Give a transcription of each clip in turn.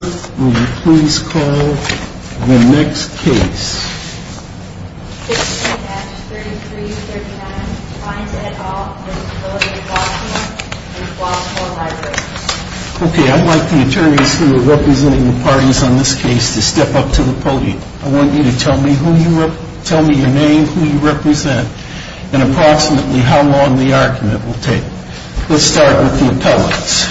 Will you please call the next case? Case number H-3339, Vines v. Village of Flossmoor and Flossmoor Library. Okay, I'd like the attorneys who are representing the parties on this case to step up to the podium. I want you to tell me your name, who you represent, and approximately how long the argument will take. Let's start with the appellants.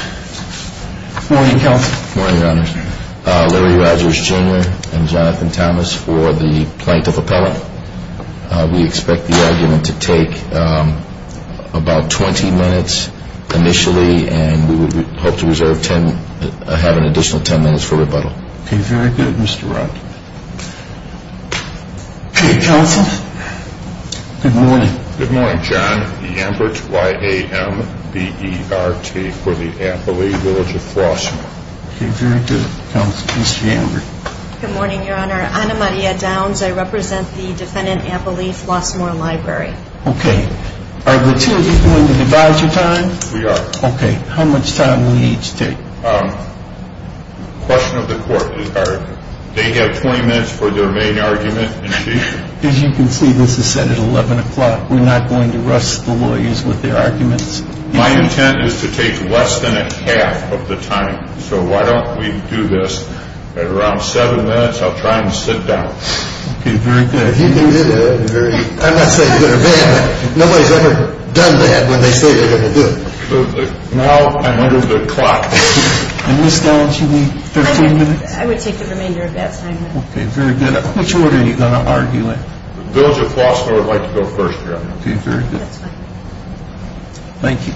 Good morning, Counsel. Good morning, Your Honor. Larry Rogers, Jr. and Jonathan Thomas for the plaintiff appellant. We expect the argument to take about 20 minutes initially, and we would hope to have an additional 10 minutes for rebuttal. Okay, very good, Mr. Rock. Okay, Counsel. Good morning. Good morning, John. Ianbert, Y-A-M-B-E-R-T for the appellee, Village of Flossmoor. Okay, very good. Counsel, Mr. Ianbert. Good morning, Your Honor. Ana Maria Downs. I represent the defendant appellee, Flossmoor Library. Okay. Are the two of you going to devise a time? We are. Okay. How much time will each take? The question of the court is, are they going to have 20 minutes for their main argument initially? As you can see, this is set at 11 o'clock. We're not going to rust the lawyers with their arguments. My intent is to take less than a half of the time, so why don't we do this at around 7 minutes? I'll try and sit down. Okay, very good. I'm not saying they're bad. Nobody's ever done bad when they say they're going to do it. Now I'm under the clock. And Ms. Downs, you need 13 minutes? I would take the remainder of that time. Okay, very good. Which order are you going to argue in? The village of Flossmoor would like to go first, Your Honor. Okay, very good. That's fine. Thank you.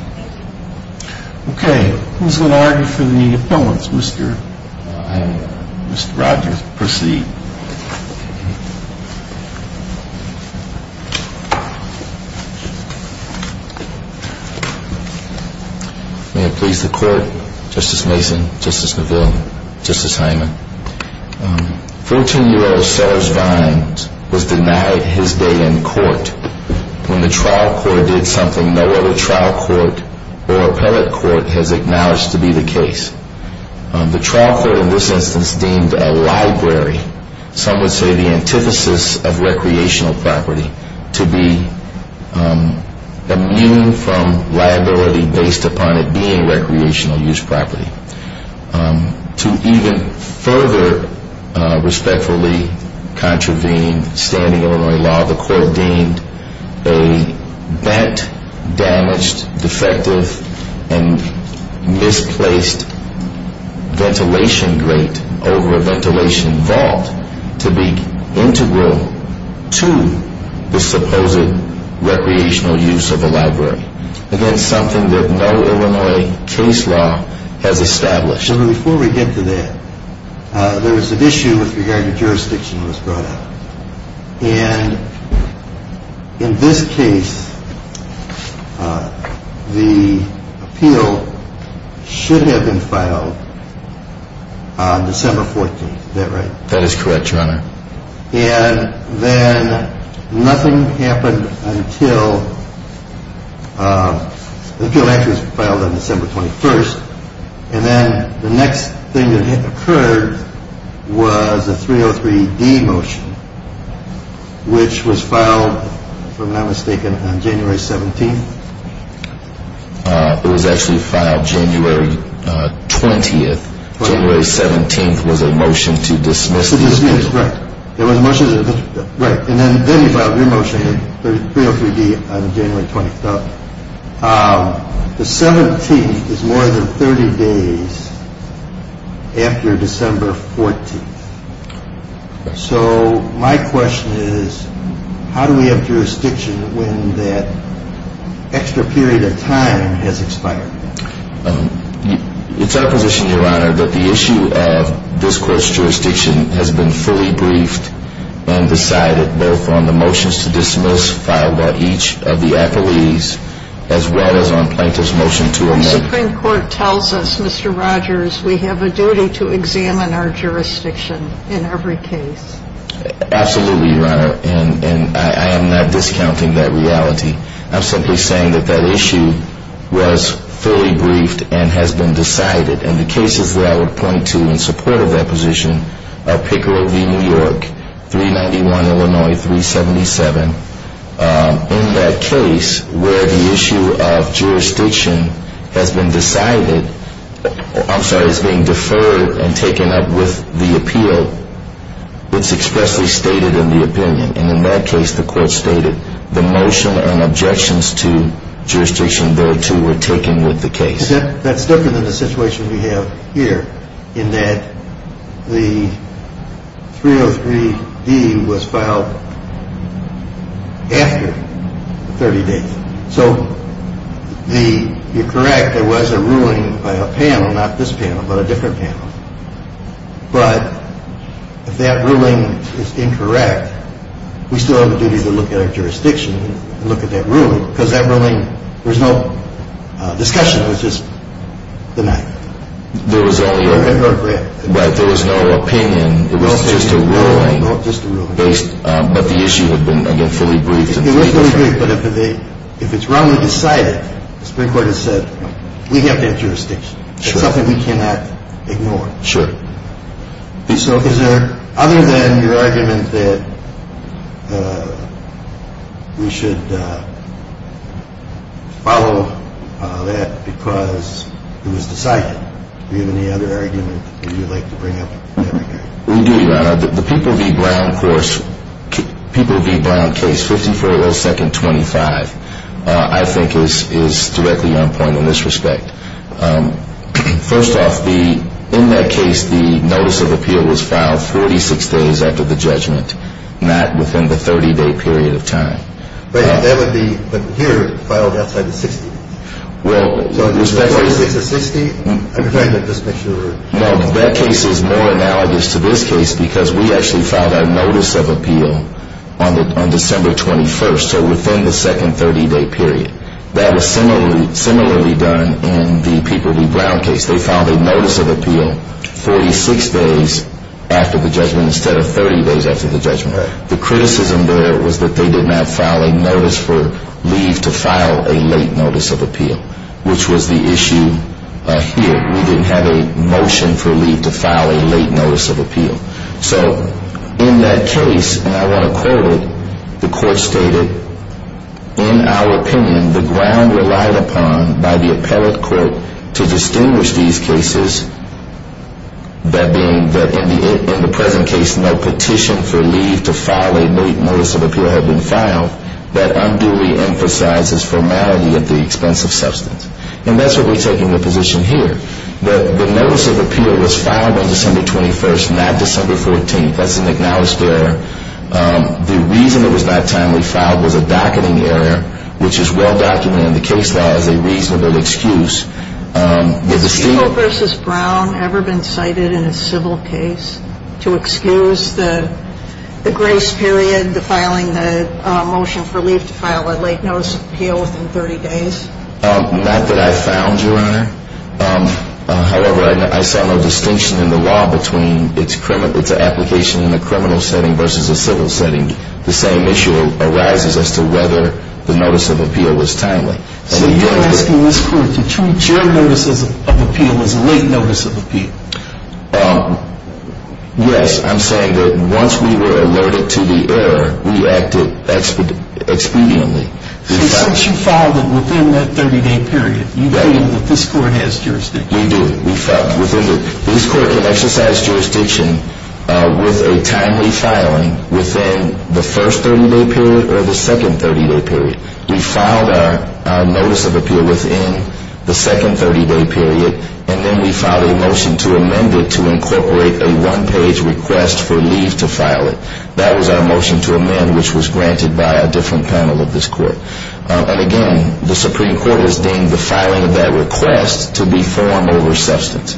Okay, who's going to argue for the appellants? Mr. Rogers. Mr. Rogers, proceed. May it please the court, Justice Mason, Justice Neville, Justice Hyman. Fourteen-year-old Serge Vines was denied his day in court when the trial court did something no other trial court or appellate court has acknowledged to be the case. The trial court in this instance deemed a library, some would say the antithesis of recreational property, to be immune from liability based upon it being recreational use property. To even further respectfully contravene standing Illinois law, the court deemed a bent, damaged, defective, and misplaced ventilation grate over a ventilation vault to be integral to the supposed recreational use of a library. Again, something that no Illinois case law has established. Before we get to that, there is an issue with regard to jurisdiction that was brought up. And in this case, the appeal should have been filed on December 14th, is that right? That is correct, Your Honor. And then nothing happened until the appeal actually was filed on December 21st. And then the next thing that occurred was a 303-D motion, which was filed, if I'm not mistaken, on January 17th. It was actually filed January 20th. January 17th was a motion to dismiss the appeal. To dismiss, right. It was a motion to dismiss. Right. And then you filed your motion, 303-D, on January 20th. The 17th is more than 30 days after December 14th. So my question is, how do we have jurisdiction when that extra period of time has expired? It's our position, Your Honor, that the issue of this Court's jurisdiction has been fully briefed and decided, both on the motions to dismiss filed by each of the affiliates, as well as on plaintiff's motion to amend. The Supreme Court tells us, Mr. Rogers, we have a duty to examine our jurisdiction in every case. Absolutely, Your Honor. And I am not discounting that reality. I'm simply saying that that issue was fully briefed and has been decided. And the cases that I would point to in support of that position are Picker v. New York, 391 Illinois 377. In that case where the issue of jurisdiction has been decided, I'm sorry, is being deferred and taken up with the appeal, it's expressly stated in the opinion. And in that case, the Court stated the motion and objections to jurisdiction thereto were taken with the case. That's different than the situation we have here, in that the 303D was filed after the 30 days. So you're correct, there was a ruling by a panel, not this panel, but a different panel. But if that ruling is incorrect, we still have a duty to look at our jurisdiction and look at that ruling, because that ruling, there was no discussion. It was just denied. There was no opinion. It was just a ruling. It was just a ruling. But the issue had been, again, fully briefed. It was fully briefed, but if it's wrongly decided, the Supreme Court has said, we have that jurisdiction. It's something we cannot ignore. Sure. So is there, other than your argument that we should follow that because it was decided, do you have any other argument that you'd like to bring up? We do, Your Honor. The People v. Brown case, 54-02-25, I think is directly on point in this respect. First off, in that case, the notice of appeal was filed 46 days after the judgment, not within the 30-day period of time. Right, but that would be, here, filed outside the 60. Well, with respect to the 60, I'm trying to just make sure. No, that case is more analogous to this case because we actually filed our notice of appeal on December 21st, so within the second 30-day period. That was similarly done in the People v. Brown case. They filed a notice of appeal 46 days after the judgment instead of 30 days after the judgment. The criticism there was that they did not file a notice for leave to file a late notice of appeal, which was the issue here. We didn't have a motion for leave to file a late notice of appeal. So in that case, and I want to quote it, the court stated, in our opinion, the ground relied upon by the appellate court to distinguish these cases, that being that in the present case, no petition for leave to file a late notice of appeal had been filed, that unduly emphasizes formality at the expense of substance. And that's where we're taking the position here. The notice of appeal was filed on December 21st, not December 14th. That's an acknowledged error. The reason it was not timely filed was a docketing error, which is well documented in the case law as a reasonable excuse. Has the People v. Brown ever been cited in a civil case to excuse the grace period, the filing the motion for leave to file a late notice of appeal within 30 days? Not that I found, Your Honor. However, I saw no distinction in the law between its application in a criminal setting versus a civil setting. The same issue arises as to whether the notice of appeal was timely. So you're asking this court to treat your notice of appeal as a late notice of appeal? Yes. I'm saying that once we were alerted to the error, we acted expediently. So since you filed it within that 30-day period, you feel that this court has jurisdiction. We do. We felt that this court can exercise jurisdiction with a timely filing within the first 30-day period or the second 30-day period. We filed our notice of appeal within the second 30-day period, and then we filed a motion to amend it to incorporate a one-page request for leave to file it. That was our motion to amend, which was granted by a different panel of this court. And again, the Supreme Court has deemed the filing of that request to be form over substance.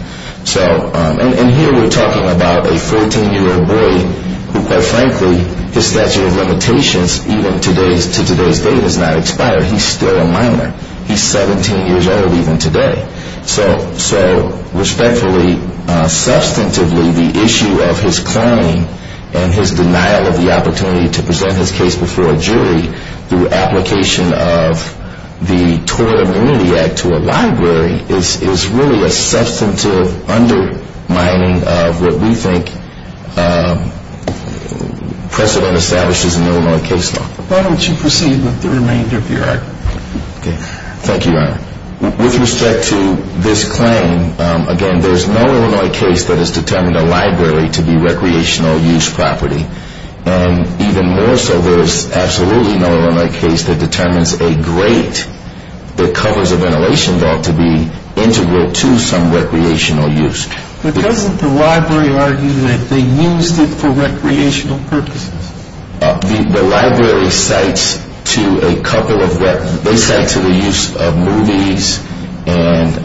And here we're talking about a 14-year-old boy who, quite frankly, his statute of limitations to today's date has not expired. He's still a minor. He's 17 years old even today. So respectfully, substantively, the issue of his claim and his denial of the opportunity to present his case before a jury through application of the Tort Immunity Act to a library is really a substantive undermining of what we think precedent establishes in Illinois case law. Why don't you proceed with the remainder of your argument? Thank you, Your Honor. With respect to this claim, again, there's no Illinois case that has determined a library to be recreational use property. And even more so, there is absolutely no Illinois case that determines a grate that covers a ventilation vault to be integral to some recreational use. But doesn't the library argue that they used it for recreational purposes? The library cites to a couple of what they cite to the use of movies and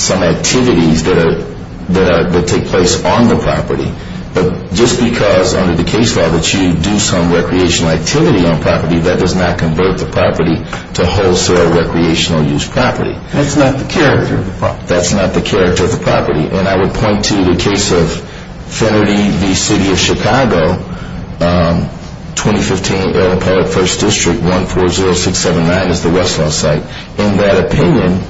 some activities that take place on the property. But just because under the case law that you do some recreational activity on property, that does not convert the property to wholesale recreational use property. That's not the character of the property. And I would point to the case of Fennerty v. City of Chicago, 2015, Appellate 1st District, 140679 is the Westlaw site. In that opinion,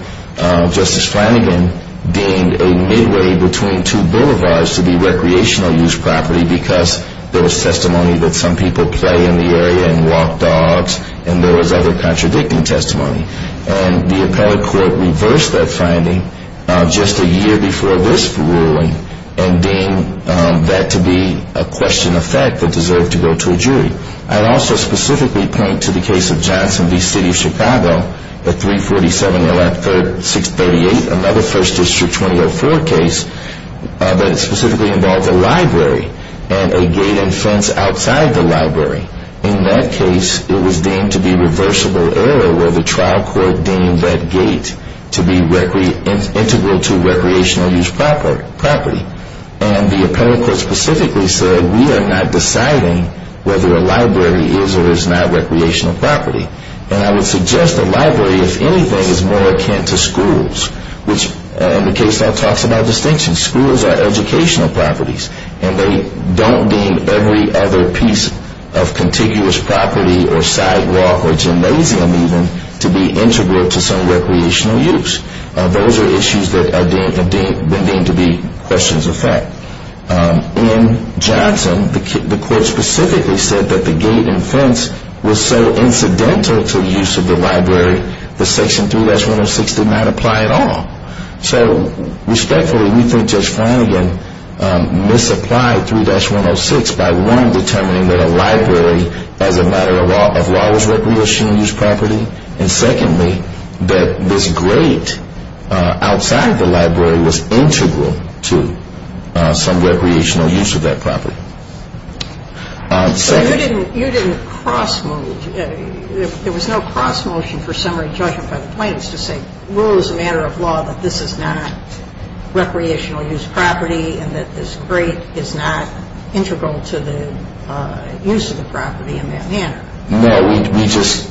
Justice Flanagan deemed a midway between two boulevards to be recreational use property because there was testimony that some people play in the area and walk dogs and there was other contradicting testimony. And the appellate court reversed that finding just a year before this ruling and deemed that to be a question of fact that deserved to go to a jury. I'd also specifically point to the case of Johnson v. City of Chicago, 3470638, another 1st District 2004 case that specifically involved a library and a gate and fence outside the library. In that case, it was deemed to be reversible error where the trial court deemed that gate to be integral to recreational use property. And the appellate court specifically said we are not deciding whether a library is or is not recreational property. And I would suggest a library, if anything, is more akin to schools, which the case law talks about distinction. Schools are educational properties and they don't deem every other piece of contiguous property or sidewalk or gymnasium even to be integral to some recreational use. Those are issues that are deemed to be questions of fact. In Johnson, the court specifically said that the gate and fence was so incidental to the use of the library, that Section 3-106 did not apply at all. So respectfully, we think Judge Flanagan misapplied 3-106 by one, determining that a library as a matter of law was recreational use property. And secondly, that this gate outside the library was integral to some recreational use of that property. So you didn't cross-move. There was no cross-motion for summary judgment by the plaintiffs to say rule as a matter of law that this is not recreational use property and that this gate is not integral to the use of the property in that manner. No. We just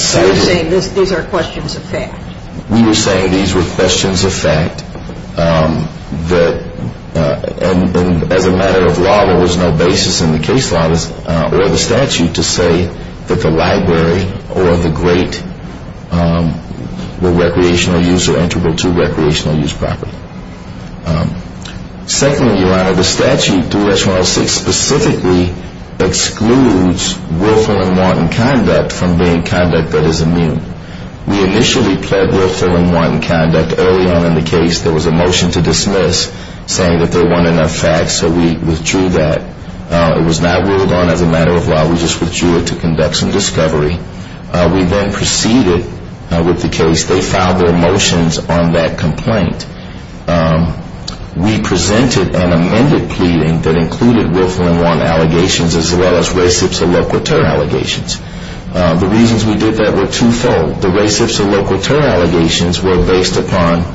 said it. You're saying these are questions of fact. We were saying these were questions of fact. And as a matter of law, there was no basis in the case law or the statute to say that the library or the gate were recreational use or integral to recreational use property. Secondly, Your Honor, the statute, 3-106, specifically excludes willful and wanton conduct from being conduct that is immune. We initially pled willful and wanton conduct early on in the case. There was a motion to dismiss saying that there weren't enough facts. So we withdrew that. It was not ruled on as a matter of law. We just withdrew it to conduct some discovery. We then proceeded with the case. They filed their motions on that complaint. We presented an amended pleading that included willful and wanton allegations as well as recepts or loquitur allegations. The reasons we did that were twofold. The recepts or loquitur allegations were based upon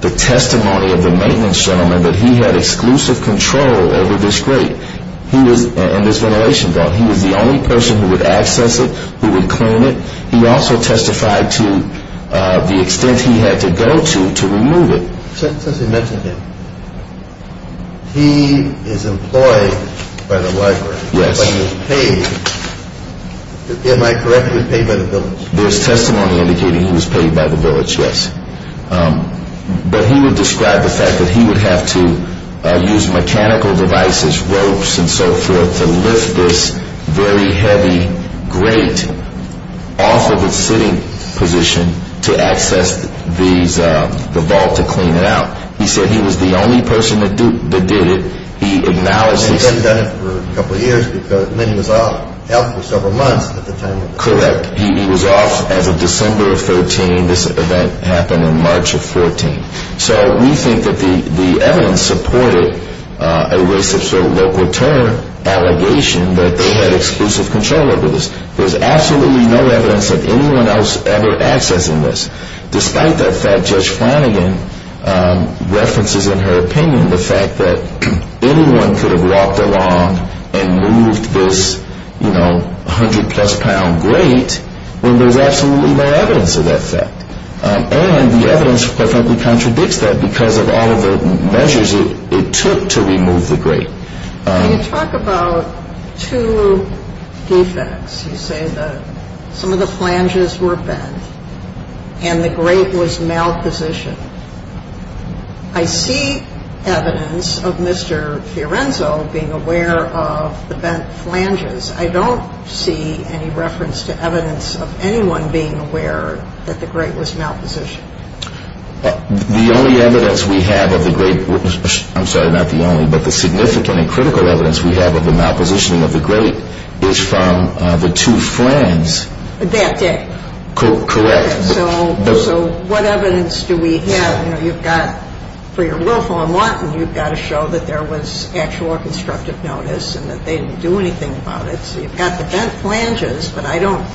the testimony of the maintenance gentleman that he had exclusive control over this grate and this ventilation vault. He was the only person who would access it, who would clean it. He also testified to the extent he had to go to to remove it. Since you mentioned him, he is employed by the library. Yes. But he was paid. Am I correct? He was paid by the village. There's testimony indicating he was paid by the village, yes. But he would describe the fact that he would have to use mechanical devices, ropes and so forth, to lift this very heavy grate off of its sitting position to access the vault to clean it out. He said he was the only person that did it. He acknowledged this. And he hadn't done it for a couple of years because he was out for several months at the time. Correct. He was off as of December of 13. This event happened in March of 14. So we think that the evidence supported a racist or local terror allegation that they had exclusive control over this. There's absolutely no evidence that anyone else ever accessed this. Despite that fact, Judge Flanagan references in her opinion the fact that anyone could have walked along and moved this 100-plus pound grate when there's absolutely no evidence of that fact. And the evidence perfectly contradicts that because of all of the measures it took to remove the grate. When you talk about two defects, you say that some of the flanges were bent and the grate was malpositioned. I see evidence of Mr. Fiorenzo being aware of the bent flanges. I don't see any reference to evidence of anyone being aware that the grate was malpositioned. The only evidence we have of the grate, I'm sorry, not the only, but the significant and critical evidence we have of the malpositioning of the grate is from the two flanges. That day. Correct. So what evidence do we have? You've got, for your willful and wanton, you've got to show that there was actual or constructive notice and that they didn't do anything about it. So you've got the bent flanges, but I don't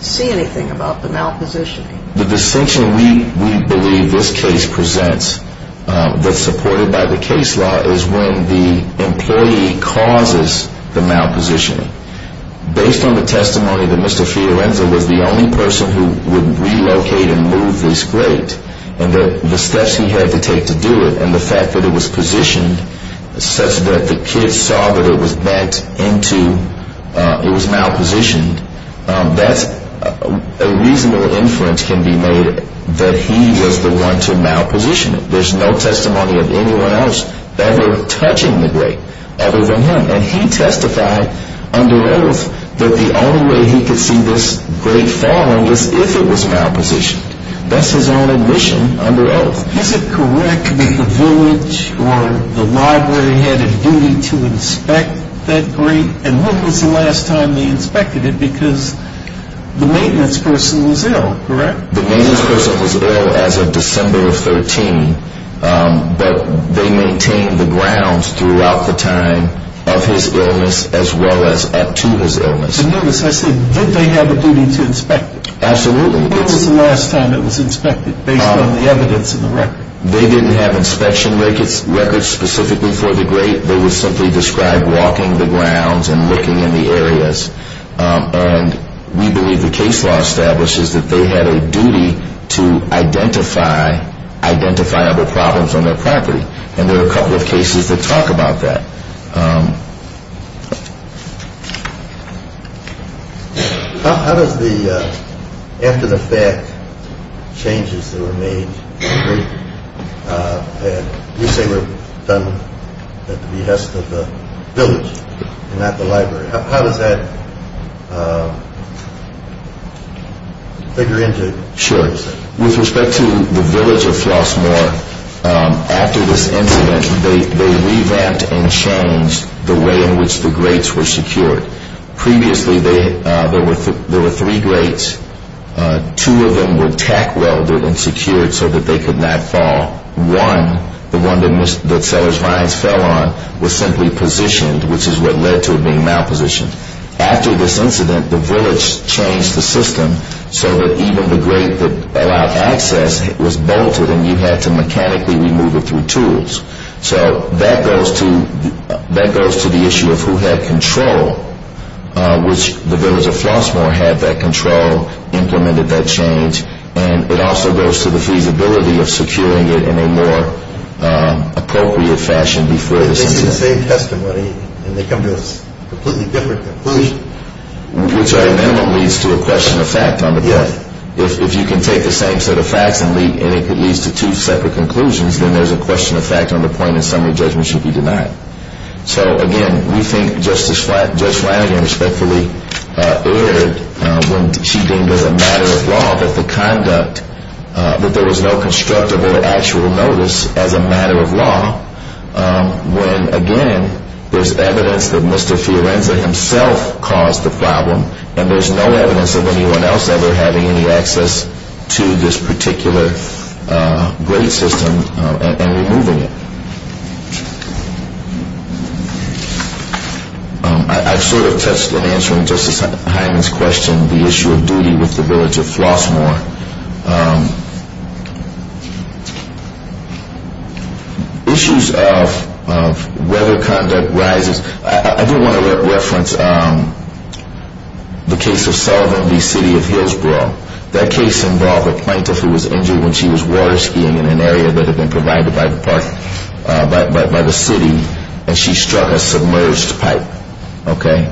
see anything about the malpositioning. The distinction we believe this case presents that's supported by the case law is when the employee causes the malpositioning. Based on the testimony that Mr. Fiorenzo was the only person who would relocate and move this grate and the steps he had to take to do it and the fact that it was positioned such that the kids saw that it was bent into, it was malpositioned, that's a reasonable inference can be made that he was the one to malposition it. There's no testimony of anyone else ever touching the grate other than him. And he testified under oath that the only way he could see this grate falling was if it was malpositioned. That's his own admission under oath. Is it correct that the village or the library had a duty to inspect that grate? And when was the last time they inspected it? Because the maintenance person was ill, correct? The maintenance person was ill as of December of 13, but they maintained the grounds throughout the time of his illness as well as up to his illness. And notice I said, did they have a duty to inspect it? Absolutely. When was the last time it was inspected based on the evidence in the record? They didn't have inspection records specifically for the grate. They would simply describe walking the grounds and looking in the areas. And we believe the case law establishes that they had a duty to identify identifiable problems on their property. And there are a couple of cases that talk about that. How does the, after the fact, changes that were made to the grate, you say were done at the behest of the village and not the library, how does that figure into? Sure. With respect to the village of Flossmoor, after this incident, they revamped and changed the way in which the grates were secured. Previously there were three grates. Two of them were tack welded and secured so that they could not fall. One, the one that Sellers Vines fell on, was simply positioned, which is what led to it being malpositioned. After this incident, the village changed the system so that even the grate that allowed access was bolted and you had to mechanically remove it through tools. So that goes to the issue of who had control, which the village of Flossmoor had that control, implemented that change, and it also goes to the feasibility of securing it in a more appropriate fashion before this incident. If you take the same testimony and they come to a completely different conclusion. Which at a minimum leads to a question of fact on the point. Yes. If you can take the same set of facts and it leads to two separate conclusions, then there's a question of fact on the point and summary judgment should be denied. So again, we think Judge Flanagan respectfully erred when she deemed as a matter of law that the conduct, that there was no constructive or actual notice as a matter of law. When again, there's evidence that Mr. Fiorenza himself caused the problem and there's no evidence of anyone else ever having any access to this particular grade system and removing it. I sort of touched on answering Justice Hyman's question, the issue of duty with the village of Flossmoor. Issues of whether conduct rises, I do want to reference the case of Sullivan v. City of Hillsborough. That case involved a plaintiff who was injured when she was water skiing in an area that had been provided by the park, by the city, and she struck a submerged pipe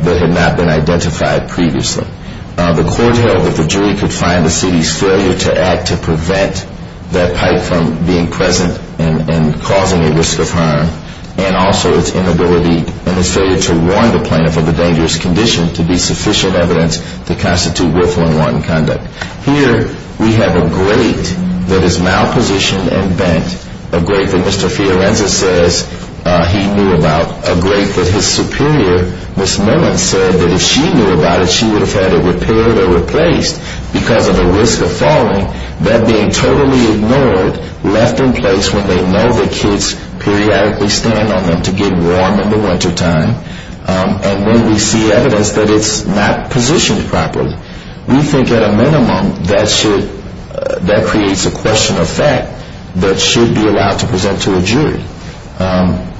that had not been identified previously. The court held that the jury could find the city's failure to act to prevent that pipe from being present and causing a risk of harm and also its inability and its failure to warn the plaintiff of the dangerous condition to be sufficient evidence to constitute worthwhile conduct. Here we have a grade that is malpositioned and bent, a grade that Mr. Fiorenza says he knew about, a grade that his superior, Ms. Mellon, said that if she knew about it, she would have had it repaired or replaced because of the risk of falling. That being totally ignored, left in place when they know the kids periodically stand on them to get warm in the wintertime, and when we see evidence that it's not positioned properly. We think at a minimum that creates a question of fact that should be allowed to present to a jury.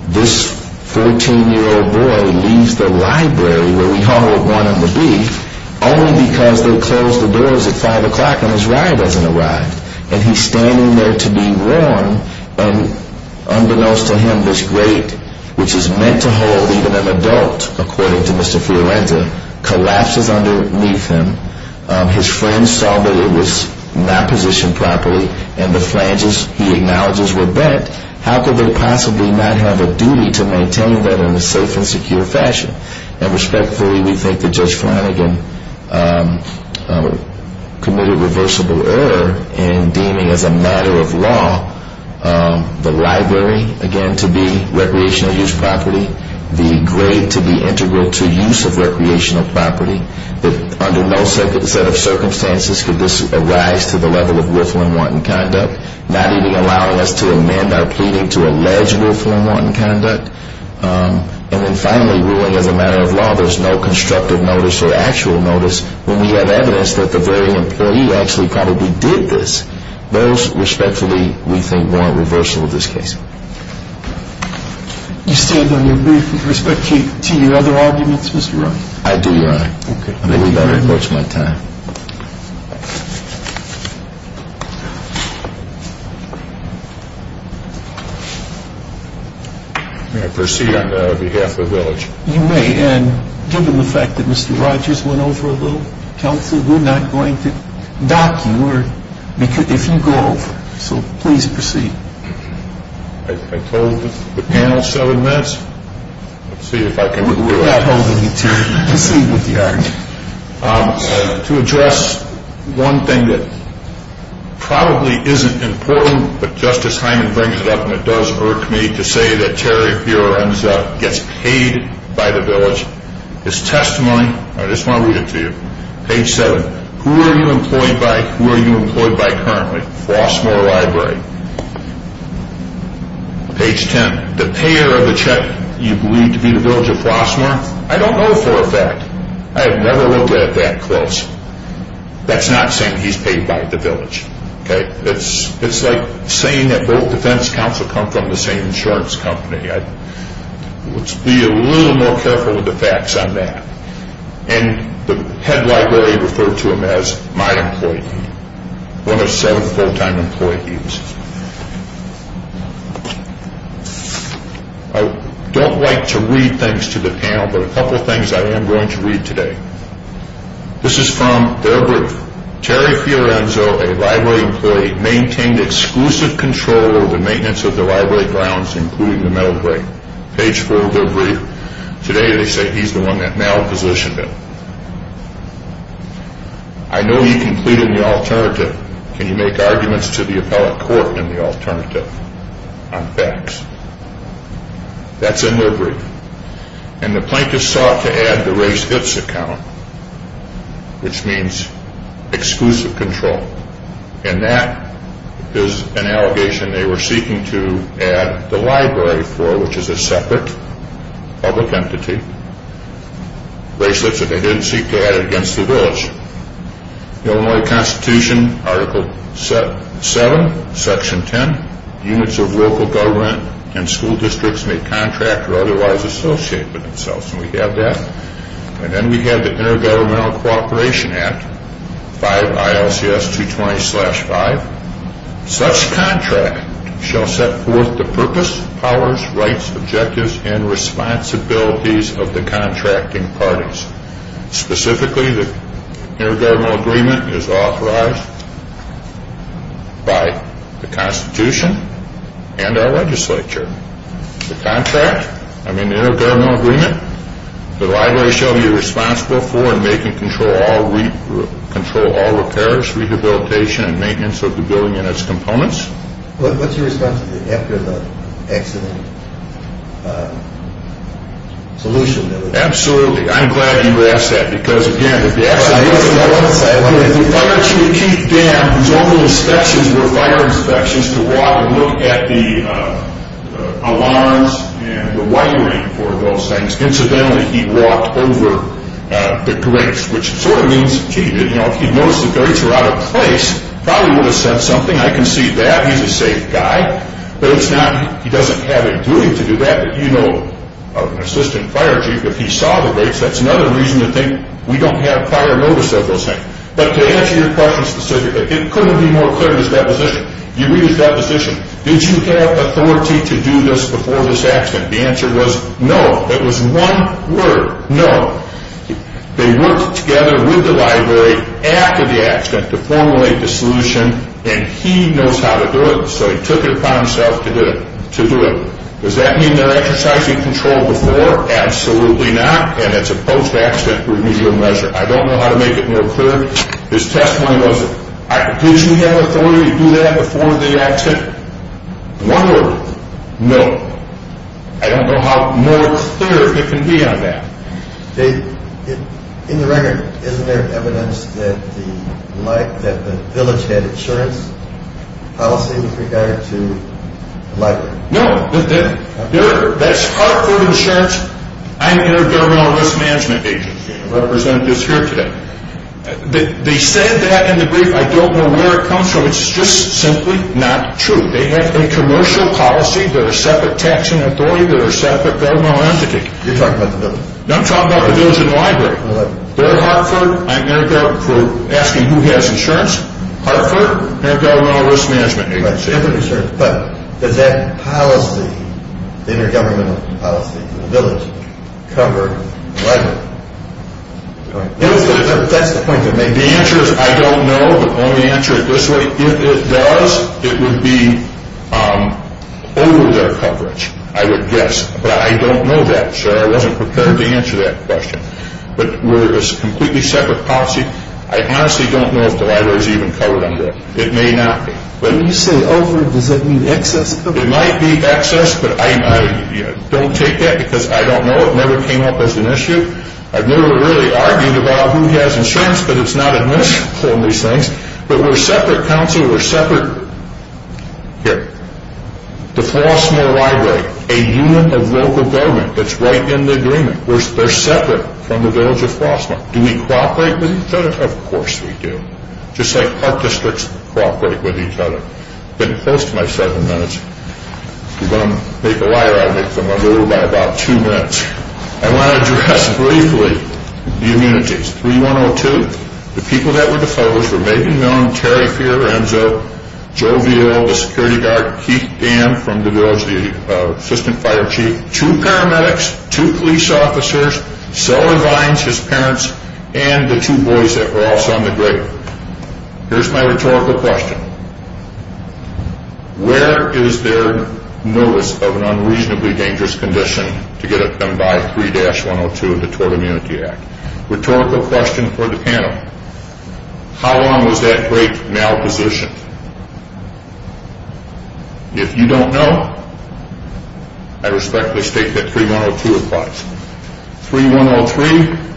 This 14-year-old boy leaves the library where we hauled one of the beef only because they closed the doors at 5 o'clock and his ride hasn't arrived. And he's standing there to be warned and unbeknownst to him, this grade, which is meant to hold even an adult, according to Mr. Fiorenza, collapses underneath him. His friends saw that it was not positioned properly and the flanges he acknowledges were bent. How could they possibly not have a duty to maintain that in a safe and secure fashion? And respectfully, we think that Judge Flanagan committed reversible error in deeming as a matter of law the library, again, to be recreational use property, the grade to be integral to use of recreational property, that under no set of circumstances could this arise to the level of willful and wanton conduct, not even allowing us to amend our pleading to allege willful and wanton conduct. And then finally, ruling as a matter of law, there's no constructive notice or actual notice when we have evidence that the very employee actually probably did this. Those respectfully, we think, warrant reversal of this case. You stand on your brief with respect to your other arguments, Mr. Rogers? I do, Your Honor. Okay. I think we'd better approach my time. May I proceed on behalf of the village? You may, and given the fact that Mr. Rogers went over a little counsel, we're not going to dock you if you go over. So please proceed. I told the panel seven minutes. Let's see if I can do that. We're not holding you to it. Proceed with the argument. To address one thing that probably isn't important, but Justice Hyman brings it up, and it does irk me to say that Terry Fioranza gets paid by the village. His testimony, I just want to read it to you. Page seven. Who are you employed by? Who are you employed by currently? Flossmoor Library. Page ten. The payer of the check, you believe to be the village of Flossmoor? I don't know for a fact. I have never looked at it that close. That's not saying he's paid by the village. It's like saying that both defense counsel come from the same insurance company. Let's be a little more careful with the facts on that. And the head library referred to him as my employee. One of seven full-time employees. I don't like to read things to the panel, but a couple things I am going to read today. This is from their brief. Terry Fioranzo, a library employee, maintained exclusive control of the maintenance of the library grounds, including the metal grate. Page four of their brief. Today they say he's the one that malpositioned it. I know you can plead in the alternative. Can you make arguments to the appellate court in the alternative on facts? That's in their brief. And the plaintiff sought to add the raised hips account, which means exclusive control. And that is an allegation they were seeking to add the library for, which is a separate public entity. Raised hips that they didn't seek to add it against the village. Illinois Constitution, Article 7, Section 10. Units of local government and school districts may contract or otherwise associate with themselves. And we have that. And then we have the Intergovernmental Cooperation Act, 5 ILCS 220-5. Such contract shall set forth the purpose, powers, rights, objectives, and responsibilities of the contracting parties. Specifically, the intergovernmental agreement is authorized by the Constitution and our legislature. The contract, I mean the intergovernmental agreement, the library shall be responsible for and make and control all repairs, rehabilitation, and maintenance of the building and its components. What's your response to the after the accident solution? Absolutely. I'm glad you asked that. Because again, if the accident wasn't there, if the fire chief, Keith Dam, whose only inspections were fire inspections to walk and look at the alarms and the wiring for those things, incidentally he walked over the grates, which sort of means, gee, if he noticed the grates were out of place, probably would have said something. I can see that. He's a safe guy. But it's not, he doesn't have a duty to do that. But you know of an assistant fire chief, if he saw the grates, that's another reason to think we don't have prior notice of those things. But to answer your question specifically, it couldn't be more clear in his deposition. You read his deposition. Did you have authority to do this before this accident? The answer was no. It was one word, no. They worked together with the library after the accident to formulate the solution, and he knows how to do it, so he took it upon himself to do it. Does that mean they're exercising control before? Absolutely not, and it's a post-accident remedial measure. I don't know how to make it more clear. His testimony was, did you have authority to do that before the accident? One word, no. I don't know how more clear it can be on that. In the record, isn't there evidence that the village had insurance policy with regard to the library? No. That's Hartford Insurance. I'm their governmental risk management agent. The representative is here today. They said that in the brief. I don't know where it comes from. It's just simply not true. They have a commercial policy. They're a separate taxing authority. They're a separate governmental entity. You're talking about the village. No, I'm talking about the village and the library. They're Hartford. I'm their governmental crew. Asking who has insurance. Hartford, their governmental risk management agency. But does that policy, the intergovernmental policy for the village, cover the library? That's the point they're making. The answer is I don't know, but I'm going to answer it this way. If it does, it would be over their coverage, I would guess. But I don't know that, sir. I wasn't prepared to answer that question. But we're a completely separate policy. I honestly don't know if the library is even covered under it. It may not be. When you say over, does that mean excess coverage? It might be excess, but I don't take that because I don't know. It never came up as an issue. I've never really argued about who has insurance, but it's not admissible in these things. But we're a separate council. We're separate. Here. The Flossmoor library, a unit of local government that's right in the agreement. They're separate from the village of Flossmoor. Do we cooperate with each other? Of course we do. Just like Hart Districts cooperate with each other. I've been close to my seven minutes. If you're going to make a liar out of me, come under it by about two minutes. I want to address briefly the immunities. 3102. The people that were the foes were Megan Milne, Terry Fioranzo, Joe Veal, the security guard, Keith Dan from the village, the assistant fire chief, two paramedics, two police officers, Selwyn Vines, his parents, and the two boys that were also on the grid. Here's my rhetorical question. Where is their notice of an unreasonably dangerous condition to get it done by 3-102 of the Tort Immunity Act? Rhetorical question for the panel. How long was that great malposition? If you don't know, I respectfully state that 3-102 applies. 3-103,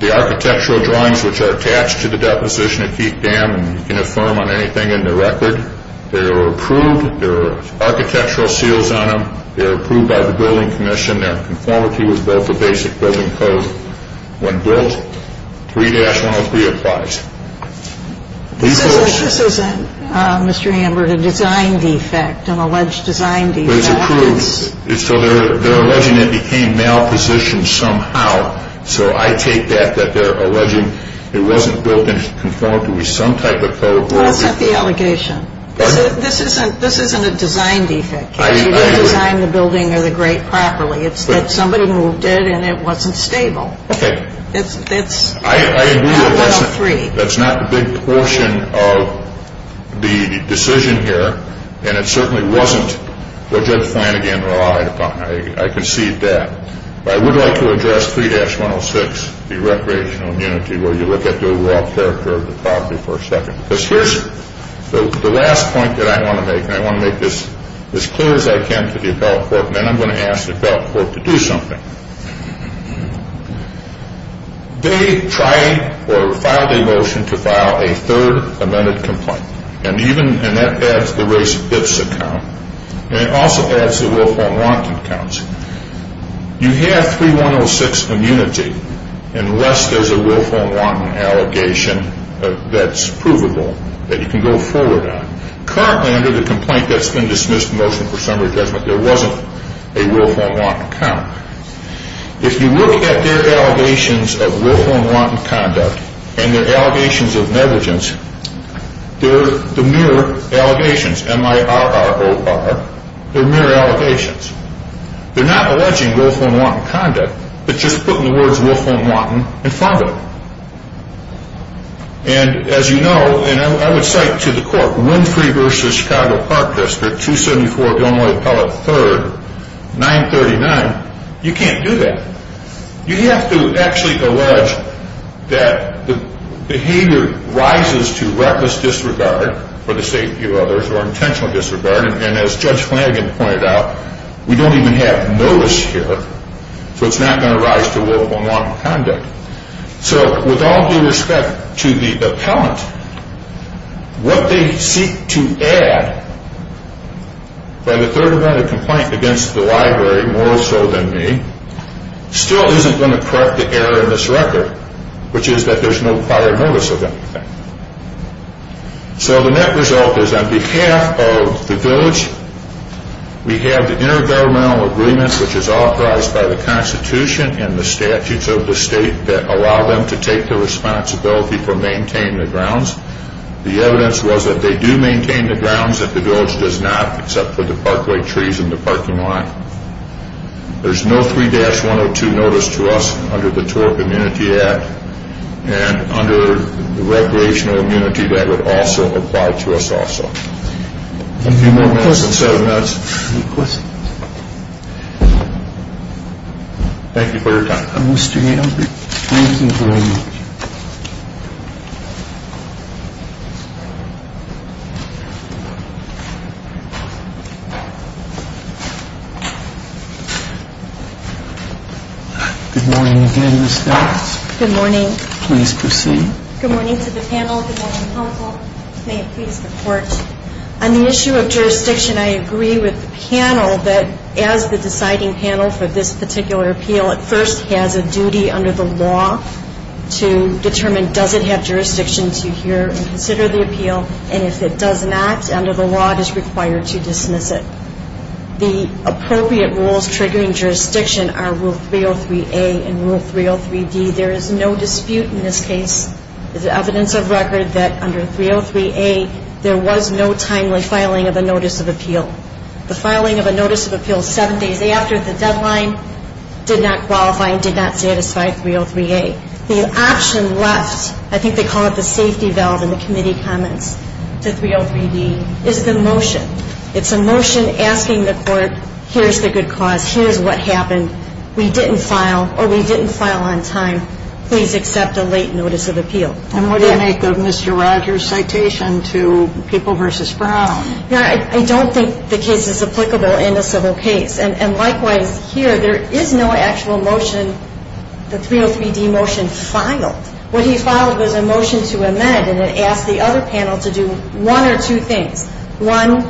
the architectural drawings which are attached to the deposition of Keith Dan, and you can affirm on anything in the record, they were approved. There were architectural seals on them. They were approved by the building commission. Their conformity was built to basic building code. When built, 3-103 applies. This isn't, Mr. Amber, a design defect, an alleged design defect. But it's approved. So they're alleging it became malpositioned somehow. So I take that, that they're alleging it wasn't built in conformity with some type of code. Well, that's not the allegation. This isn't a design defect. You didn't design the building or the grate properly. It's that somebody moved it and it wasn't stable. Okay. That's 3-103. I agree with that. That's not the big portion of the decision here. And it certainly wasn't what Judge Flanagan relied upon. I concede that. But I would like to address 3-106, the recreational immunity, where you look at the overall character of the property for a second. Because here's the last point that I want to make, and I want to make this as clear as I can to the appellate court, and then I'm going to ask the appellate court to do something. They tried or filed a motion to file a third amended complaint. And even, and that adds the race ifs account. And it also adds the willful and wanton counts. You have 3-106 immunity unless there's a willful and wanton allegation that's provable that you can go forward on. Currently under the complaint that's been dismissed, motion for summary judgment, there wasn't a willful and wanton count. If you look at their allegations of willful and wanton conduct and their allegations of negligence, they're the mere allegations, M-I-R-R-O-R, they're mere allegations. They're not alleging willful and wanton conduct, but just putting the words willful and wanton in front of them. And as you know, and I would cite to the court, Winfrey v. Chicago Park District, 274 Gilnway Appellate 3rd, 939, you can't do that. You have to actually allege that the behavior rises to reckless disregard for the safety of others or intentional disregard, and as Judge Flanagan pointed out, we don't even have notice here, so it's not going to rise to willful and wanton conduct. So with all due respect to the appellant, what they seek to add by the third amendment complaint against the library, more so than me, still isn't going to correct the error in this record, which is that there's no prior notice of anything. So the net result is on behalf of the village, we have the intergovernmental agreement which is authorized by the Constitution and the statutes of the state that allow them to take the responsibility for maintaining the grounds. The evidence was that they do maintain the grounds, that the village does not, except for the parkway trees and the parking lot. There's no 3-102 notice to us under the Tour Community Act, and under the recreational immunity that would also apply to us also. A few more minutes and seven minutes. Any questions? Thank you for your time. Mr. Gale, thank you very much. Good morning again, Ms. Stout. Good morning. Please proceed. Good morning to the panel. Good morning, counsel. May it please the Court. On the issue of jurisdiction, I agree with the panel that as the deciding panel for this particular appeal, it first has a duty under the law to determine does it have jurisdiction to hear and consider the appeal, and if it does not, under the law, it is required to dismiss it. The appropriate rules triggering jurisdiction are Rule 303A and Rule 303D. There is no dispute in this case. There's evidence of record that under 303A, there was no timely filing of a notice of appeal. The filing of a notice of appeal seven days after the deadline did not qualify and did not satisfy 303A. The option left, I think they call it the safety valve in the committee comments, to 303D is the motion. It's a motion asking the Court, here's the good cause, here's what happened. We didn't file or we didn't file on time. Please accept a late notice of appeal. And what do you make of Mr. Rogers' citation to People v. Brown? I don't think the case is applicable in a civil case, and likewise here there is no actual motion, the 303D motion filed. What he filed was a motion to amend, and it asked the other panel to do one or two things. One,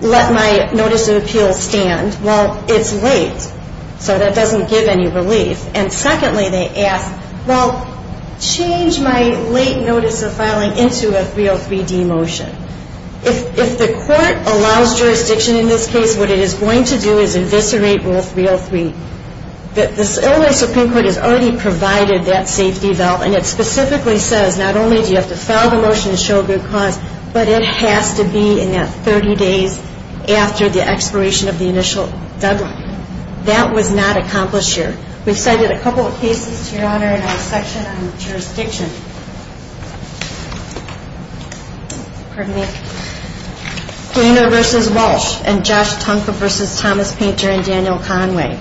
let my notice of appeal stand while it's late. So that doesn't give any relief. And secondly, they asked, well, change my late notice of filing into a 303D motion. If the Court allows jurisdiction in this case, what it is going to do is eviscerate Rule 303. The LA Supreme Court has already provided that safety valve, and it specifically says not only do you have to file the motion to show a good cause, but it has to be in that 30 days after the expiration of the initial deadline. That was not accomplished here. We've cited a couple of cases, Your Honor, in our section on jurisdiction. Pardon me. Garner v. Walsh and Josh Tunker v. Thomas Painter and Daniel Conway.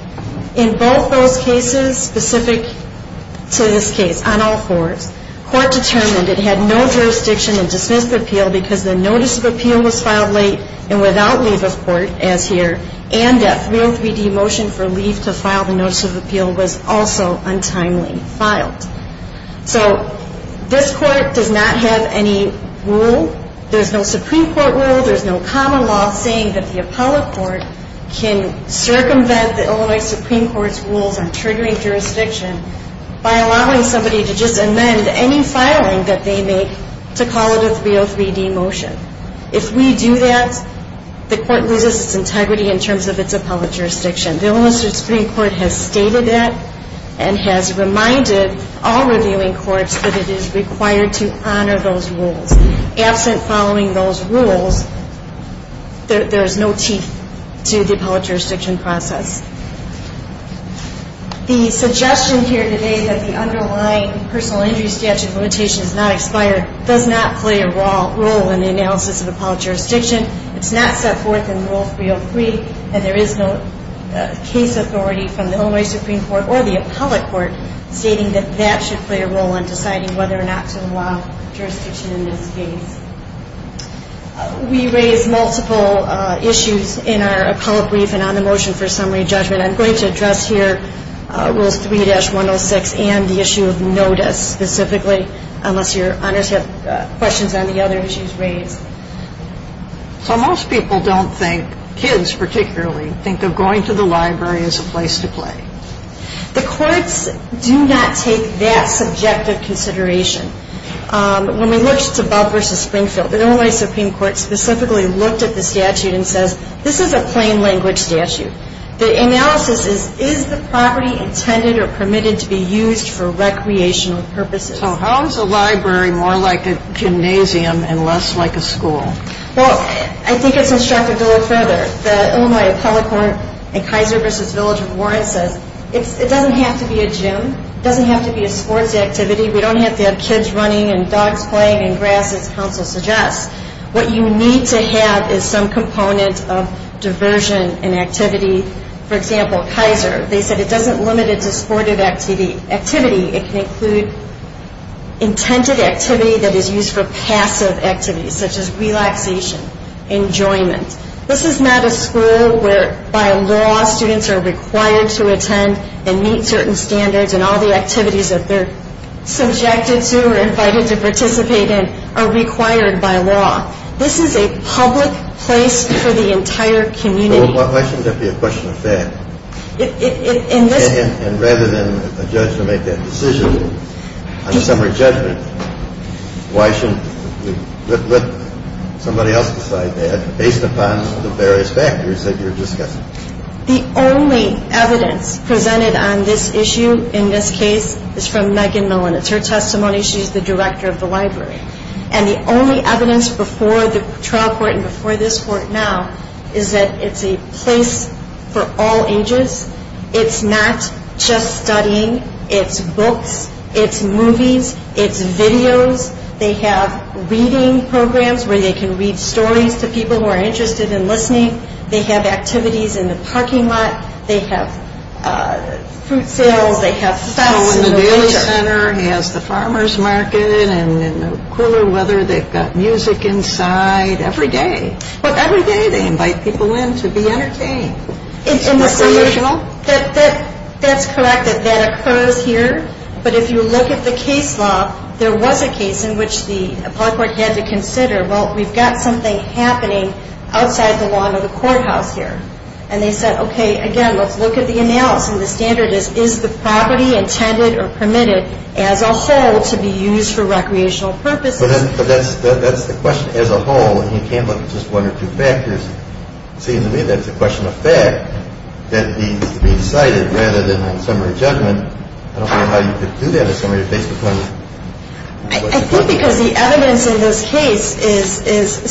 In both those cases, specific to this case, on all fours, court determined it had no jurisdiction in dismissed appeal because the notice of appeal was filed late and without leave of court, as here, and that 303D motion for leave to file the notice of appeal was also untimely filed. So this Court does not have any rule. There's no Supreme Court rule. There's no common law saying that the Apollo Court can circumvent the Illinois Supreme Court's rules on triggering jurisdiction by allowing somebody to just amend any filing that they make to call it a 303D motion. If we do that, the Court loses its integrity in terms of its Apollo jurisdiction. The Illinois Supreme Court has stated that and has reminded all reviewing courts that it is required to honor those rules. Absent following those rules, there is no teeth to the Apollo jurisdiction process. The suggestion here today that the underlying personal injury statute limitation is not expired does not play a role in the analysis of Apollo jurisdiction. It's not set forth in Rule 303, and there is no case authority from the Illinois Supreme Court or the Apollo Court stating that that should play a role in deciding whether or not to allow jurisdiction in this case. We raised multiple issues in our Apollo brief and on the motion for summary judgment. I'm going to address here Rules 3-106 and the issue of notice specifically, unless your honors have questions on the other issues raised. So most people don't think, kids particularly, think of going to the library as a place to play. The courts do not take that subjective consideration. When we looked at Bob v. Springfield, the Illinois Supreme Court specifically looked at the statute and says, this is a plain language statute. The analysis is, is the property intended or permitted to be used for recreational purposes? So how is a library more like a gymnasium and less like a school? Well, I think it's instructed a little further. The Illinois Apollo Court in Kaiser v. Village of Warren says, it doesn't have to be a gym. It doesn't have to be a sports activity. We don't have to have kids running and dogs playing in grass, as counsel suggests. What you need to have is some component of diversion and activity. For example, Kaiser, they said it doesn't limit it to sport activity. It can include intended activity that is used for passive activities, such as relaxation, enjoyment. This is not a school where, by law, students are required to attend and meet certain standards and all the activities that they're subjected to or invited to participate in are required by law. This is a public place for the entire community. Why shouldn't that be a question of fact? And rather than a judge to make that decision, on a summary judgment, why shouldn't we let somebody else decide that, based upon the various factors that you're discussing? The only evidence presented on this issue in this case is from Megan Millen. It's her testimony. She's the director of the library. And the only evidence before the trial court and before this court now is that it's a place for all ages. It's not just studying. It's books. It's movies. It's videos. They have reading programs where they can read stories to people who are interested in listening. They have activities in the parking lot. They have fruit sales. They have fests in the winter. And the Daly Center has the farmer's market. And in the cooler weather, they've got music inside every day. But every day, they invite people in to be entertained. And recreational? That's correct. That occurs here. But if you look at the case law, there was a case in which the public court had to consider, well, we've got something happening outside the lawn of the courthouse here. And they said, okay, again, let's look at the analysis. And the standard is, is the property intended or permitted as a whole to be used for recreational purposes? But that's the question, as a whole. And you can't look at just one or two factors. It seems to me that it's a question of fact that needs to be decided rather than a summary judgment. I don't know how you could do that as somebody who takes the plunge. I think because the evidence in this case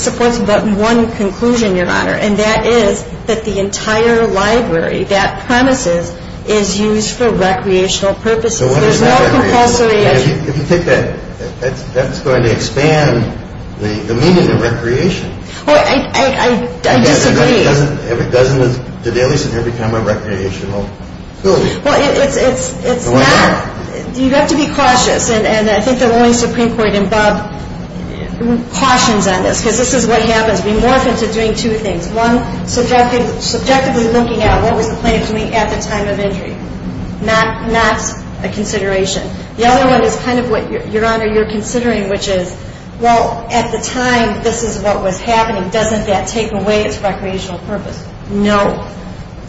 supports but one conclusion, Your Honor, and that is that the entire library, that premises, is used for recreational purposes. There's no compulsory education. If you take that, that's going to expand the meaning of recreation. Well, I disagree. Doesn't the dailies in here become a recreational building? Well, it's not. You have to be cautious. And I think that only Supreme Court above cautions on this because this is what happens. We morph into doing two things. One, subjectively looking at what was the plan at the time of injury. Not a consideration. The other one is kind of what, Your Honor, you're considering, which is, well, at the time, this is what was happening. Doesn't that take away its recreational purpose? No.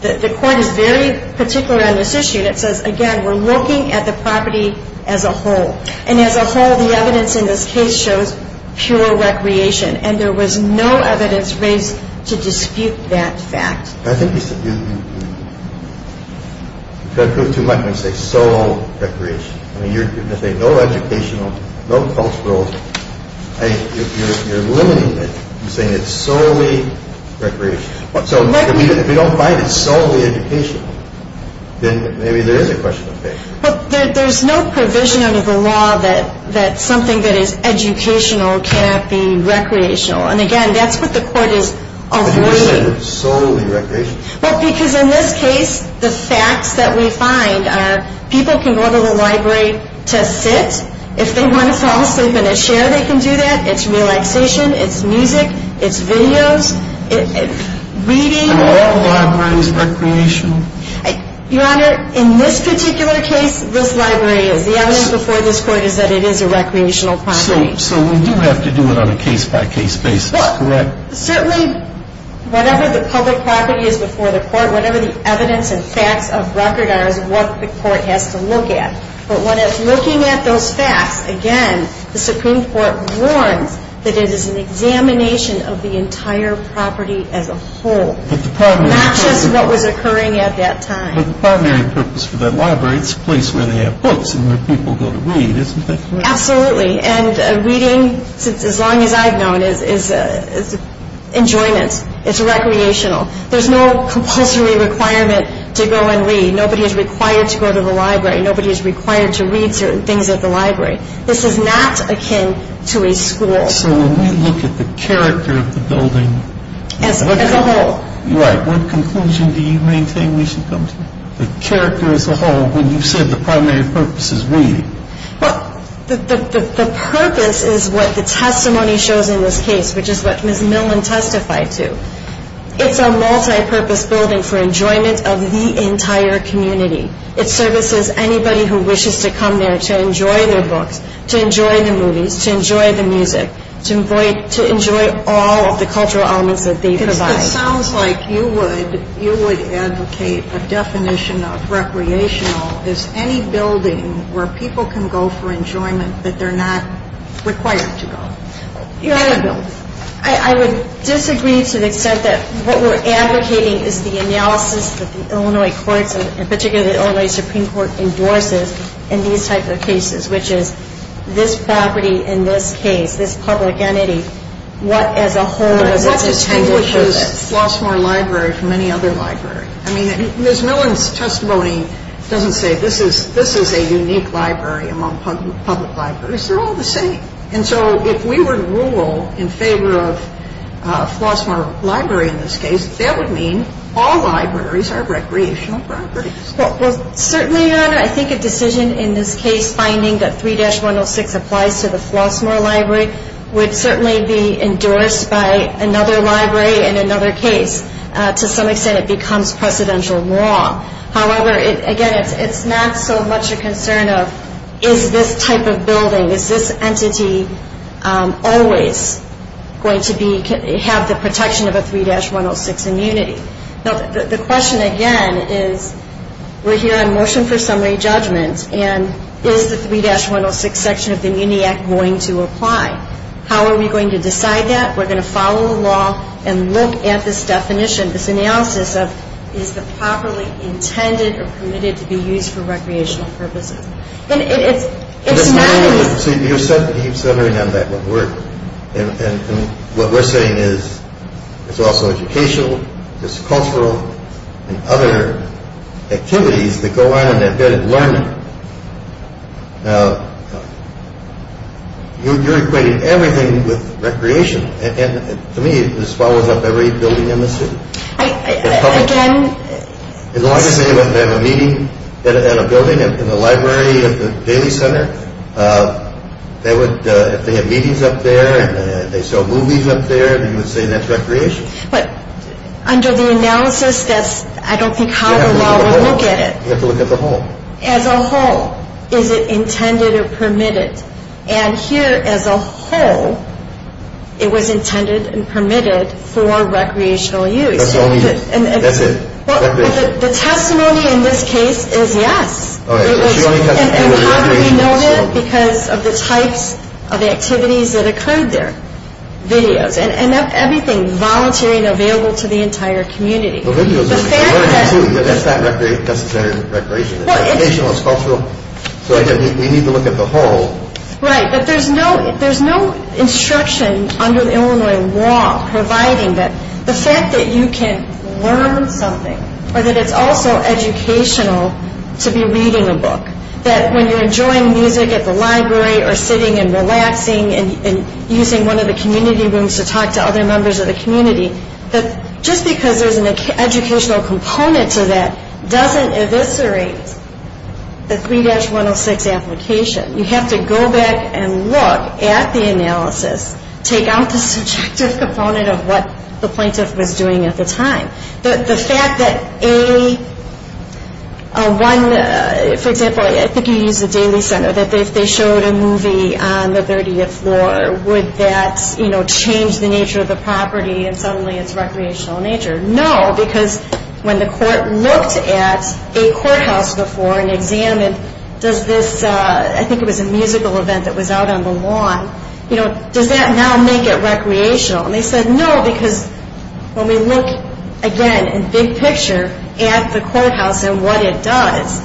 The court is very particular on this issue. And it says, again, we're looking at the property as a whole. And as a whole, the evidence in this case shows pure recreation. And there was no evidence raised to dispute that fact. I think you said you, you, you, you. You've got to go too much and say sole recreation. I mean, you're saying no educational, no cultural. You're, you're, you're limiting it. You're saying it's solely recreational. So if you don't find it solely educational, then maybe there is a question of pay. But there, there's no provision under the law that, that something that is educational cannot be recreational. And, again, that's what the court is avoiding. But you just said solely recreational. Well, because in this case, the facts that we find are people can go to the library to sit. If they want to fall asleep in a chair, they can do that. It's relaxation. It's music. It's videos. It's reading. Are all libraries recreational? Your Honor, in this particular case, this library is. The evidence before this court is that it is a recreational property. So, so we do have to do it on a case-by-case basis, correct? Certainly, whatever the public property is before the court, whatever the evidence and facts of record are is what the court has to look at. But when it's looking at those facts, again, the Supreme Court warns that it is an examination of the entire property as a whole. Not just what was occurring at that time. But the primary purpose for that library, it's a place where they have books and where people go to read, isn't it? Absolutely. And reading, as long as I've known, is enjoyment. It's recreational. There's no compulsory requirement to go and read. Nobody is required to go to the library. Nobody is required to read certain things at the library. This is not akin to a school. So when we look at the character of the building. As a whole. Right. What conclusion do you maintain we should come to? The character as a whole, when you said the primary purpose is reading. Well, the purpose is what the testimony shows in this case, which is what Ms. Millman testified to. It's a multipurpose building for enjoyment of the entire community. It services anybody who wishes to come there to enjoy their books, to enjoy the movies, to enjoy the music, to enjoy all of the cultural elements that they provide. It sounds like you would advocate a definition of recreational as any building where people can go for enjoyment that they're not required to go. I would disagree to the extent that what we're advocating is the analysis that the Illinois courts, and particularly the Illinois Supreme Court endorses in these types of cases, which is this property in this case, this public entity, what as a whole is its intended purpose. It's a Flossmoor library from any other library. I mean, Ms. Millman's testimony doesn't say this is a unique library among public libraries. They're all the same. And so if we were to rule in favor of a Flossmoor library in this case, that would mean all libraries are recreational properties. Well, certainly, Your Honor, I think a decision in this case finding that 3-106 applies to the Flossmoor library would certainly be endorsed by another library in another case. To some extent, it becomes precedential law. However, again, it's not so much a concern of is this type of building, is this entity always going to have the protection of a 3-106 immunity. The question, again, is we're here on motion for summary judgment, and is the 3-106 section of the Immunity Act going to apply? How are we going to decide that? We're going to follow the law and look at this definition, this analysis of is the property intended or permitted to be used for recreational purposes. And it's not as – So you're centering on that. And what we're saying is it's also educational, it's cultural, and other activities that go on in that bed of learning. Now, you're equating everything with recreation. And to me, this follows up every building in the city. Again – As long as they have a meeting at a building in the library of the Daly Center, if they have meetings up there and they show movies up there, then you would say that's recreation. But under the analysis, I don't think how the law would look at it. You have to look at the whole. As a whole, is it intended or permitted? And here, as a whole, it was intended and permitted for recreational use. That's the only – that's it. The testimony in this case is yes. And how do we know that? Because of the types of activities that occurred there. Videos and everything. Voluntary and available to the entire community. Well, videos – The fact that – That's not necessarily recreation. It's educational, it's cultural. So again, we need to look at the whole. Right, but there's no instruction under the Illinois law providing that the fact that you can learn something or that it's also educational to be reading a book. That when you're enjoying music at the library or sitting and relaxing and using one of the community rooms to talk to other members of the community, that just because there's an educational component to that doesn't eviscerate the 3-106 application. You have to go back and look at the analysis, take out the subjective component of what the plaintiff was doing at the time. The fact that A, one – for example, I think you used the Daily Center, that if they showed a movie on the 30th floor, would that change the nature of the property and suddenly its recreational nature? No, because when the court looked at a courthouse before and examined, does this – I think it was a musical event that was out on the lawn. Does that now make it recreational? And they said no, because when we look, again, in big picture, at the courthouse and what it does,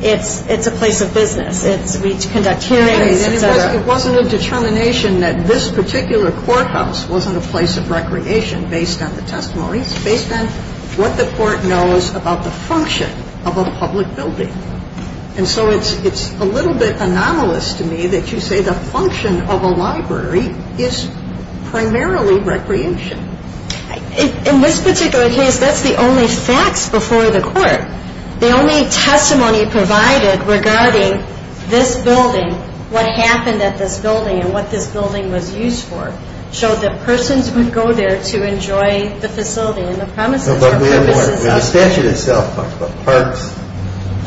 it's a place of business. We conduct hearings, et cetera. It wasn't a determination that this particular courthouse wasn't a place of recreation based on the testimony. It's based on what the court knows about the function of a public building. And so it's a little bit anomalous to me that you say the function of a library is primarily recreation. The only testimony provided regarding this building, what happened at this building and what this building was used for, showed that persons would go there to enjoy the facility and the premises. No, but we have more. The statute itself talks about parks,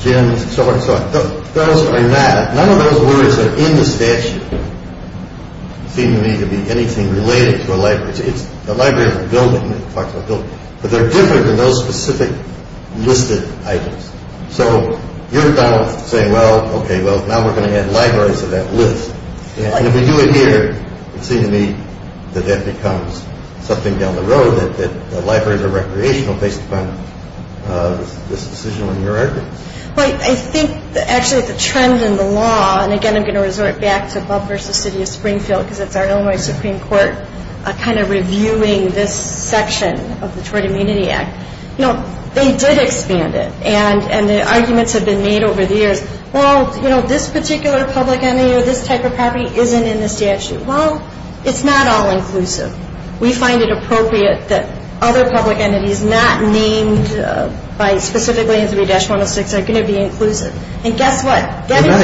gyms, so on and so on. Those are not – none of those words are in the statute, seem to me to be anything related to a library. It's the library of a building. But they're different than those specific listed items. So you're, Donald, saying, well, okay, well, now we're going to add libraries to that list. And if we do it here, it seems to me that that becomes something down the road that libraries are recreational based upon this decision on your record. Well, I think actually the trend in the law – and, again, I'm going to resort back to Bub versus City of Springfield because it's our only Supreme Court kind of reviewing this section of the Tort Immunity Act. You know, they did expand it. And the arguments have been made over the years, well, you know, this particular public entity or this type of property isn't in the statute. Well, it's not all inclusive. We find it appropriate that other public entities not named by – specifically in 3-106 are going to be inclusive. And guess what? Going back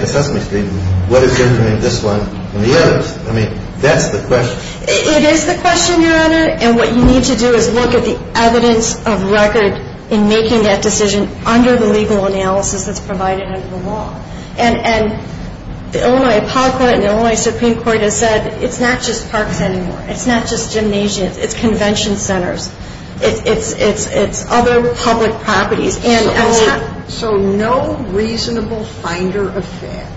to Sesame Street, what is different in this one than the others? I mean, that's the question. It is the question, Your Honor. And what you need to do is look at the evidence of record in making that decision under the legal analysis that's provided under the law. And the Illinois Appellate Court and the Illinois Supreme Court have said it's not just parks anymore. It's not just gymnasiums. It's convention centers. It's other public properties. So no reasonable finder of fact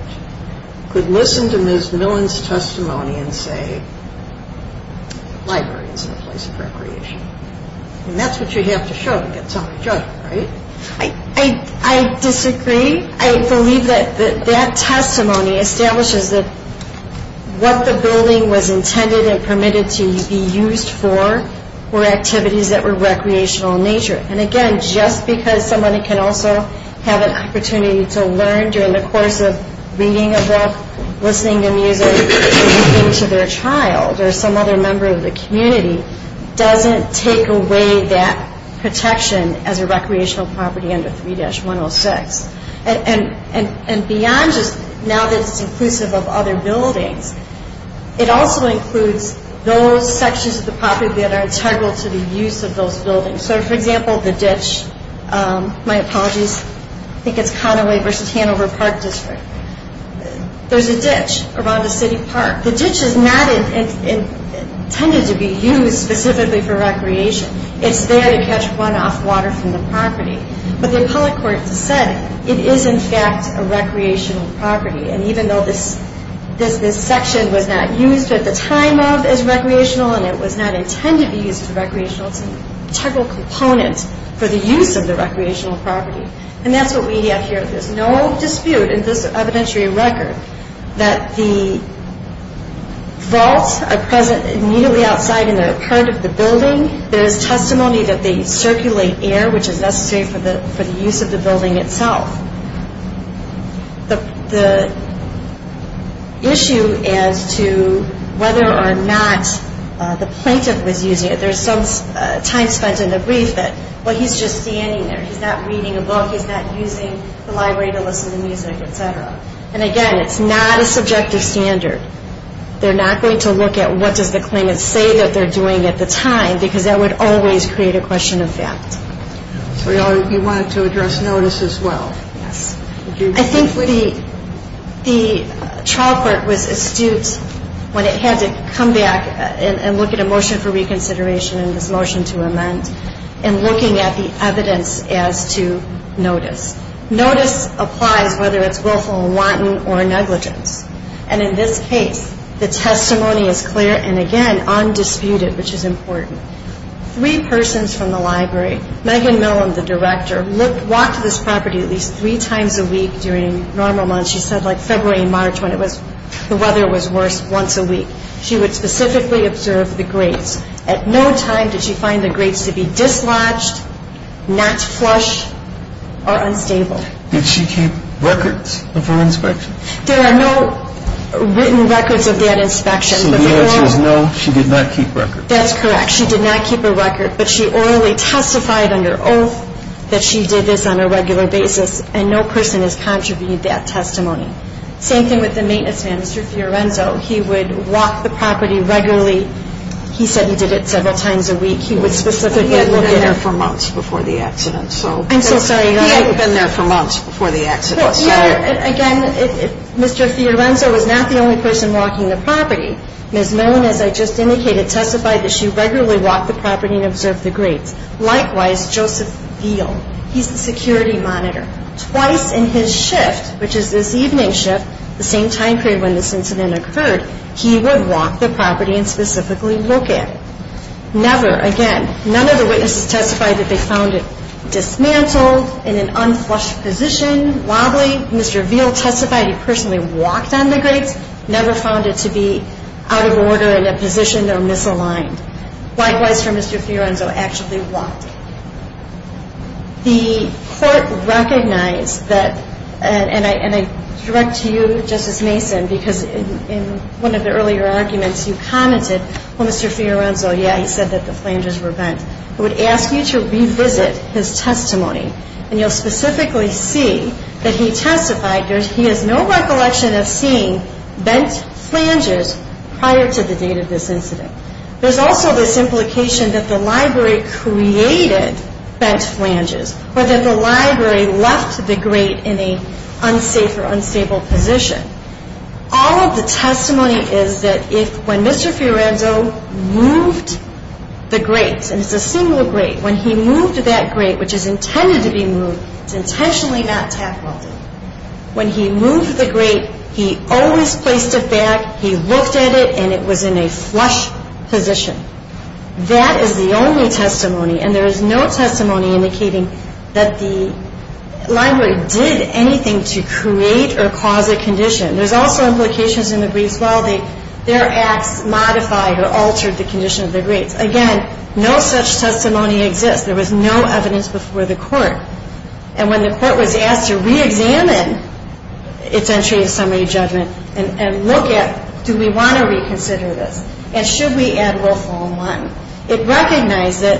could listen to Ms. Millen's testimony and say, library isn't a place of recreation. And that's what you have to show to get somebody to judge you, right? I disagree. I believe that that testimony establishes that what the building was intended and permitted to be used for were activities that were recreational in nature. And, again, just because somebody can also have an opportunity to learn during the course of reading a book, listening to music, speaking to their child or some other member of the community doesn't take away that protection as a recreational property under 3-106. And beyond just now that it's inclusive of other buildings, it also includes those sections of the property that are integral to the use of those buildings. So, for example, the ditch. My apologies. I think it's Conaway v. Hanover Park District. There's a ditch around the city park. The ditch is not intended to be used specifically for recreation. It's there to catch runoff water from the property. But the appellate court said it is, in fact, a recreational property. And even though this section was not used at the time of as recreational and it was not intended to be used as recreational, it's an integral component for the use of the recreational property. And that's what we have here. There's no dispute in this evidentiary record that the vaults are present immediately outside in the heart of the building. There is testimony that they circulate air, which is necessary for the use of the building itself. The issue as to whether or not the plaintiff was using it, there's some time spent in the brief that, well, he's just standing there. He's not reading a book. He's not using the library to listen to music, et cetera. And, again, it's not a subjective standard. They're not going to look at what does the claimant say that they're doing at the time because that would always create a question of fact. So you wanted to address notice as well. Yes. I think the trial court was astute when it had to come back and look at a motion for reconsideration and this motion to amend and looking at the evidence as to notice. Notice applies whether it's willful and wanton or negligence. And in this case, the testimony is clear and, again, undisputed, which is important. Three persons from the library, Megan Millen, the director, walked this property at least three times a week during normal months. She said, like, February and March when the weather was worse, once a week. She would specifically observe the grates. At no time did she find the grates to be dislodged, not flush, or unstable. Did she keep records of her inspection? There are no written records of that inspection. So the answer is no, she did not keep records. That's correct. She did not keep a record, but she orally testified under oath that she did this on a regular basis, and no person has contributed that testimony. Same thing with the maintenance man, Mr. Fiorenzo. He would walk the property regularly. He said he did it several times a week. He would specifically look at it. He hadn't been there for months before the accident. I'm so sorry. He hadn't been there for months before the accident. Again, Mr. Fiorenzo was not the only person walking the property. Ms. Milne, as I just indicated, testified that she regularly walked the property and observed the grates. Likewise, Joseph Veal. He's the security monitor. Twice in his shift, which is this evening's shift, the same time period when this incident occurred, he would walk the property and specifically look at it. Never, again, none of the witnesses testified that they found it dismantled, in an unflushed position, wobbly. Mr. Veal testified he personally walked on the grates, never found it to be out of order in a position or misaligned. Likewise for Mr. Fiorenzo, actually walked. The court recognized that, and I direct to you, Justice Mason, because in one of the earlier arguments you commented, well, Mr. Fiorenzo, yeah, he said that the flanges were bent. I would ask you to revisit his testimony, and you'll specifically see that he testified he has no recollection of seeing bent flanges prior to the date of this incident. There's also this implication that the library created bent flanges, or that the library left the grate in an unsafe or unstable position. All of the testimony is that when Mr. Fiorenzo moved the grates, and it's a single grate, when he moved that grate, which is intended to be moved, it's intentionally not tack-welded. When he moved the grate, he always placed it back, he looked at it, and it was in a flush position. That is the only testimony, and there is no testimony indicating that the library did anything to create or cause a condition. There's also implications in the briefs, well, their acts modified or altered the condition of the grates. Again, no such testimony exists. There was no evidence before the court. And when the court was asked to re-examine its entry in summary judgment and look at, do we want to reconsider this, and should we add Wilfo and Wanton, it recognized that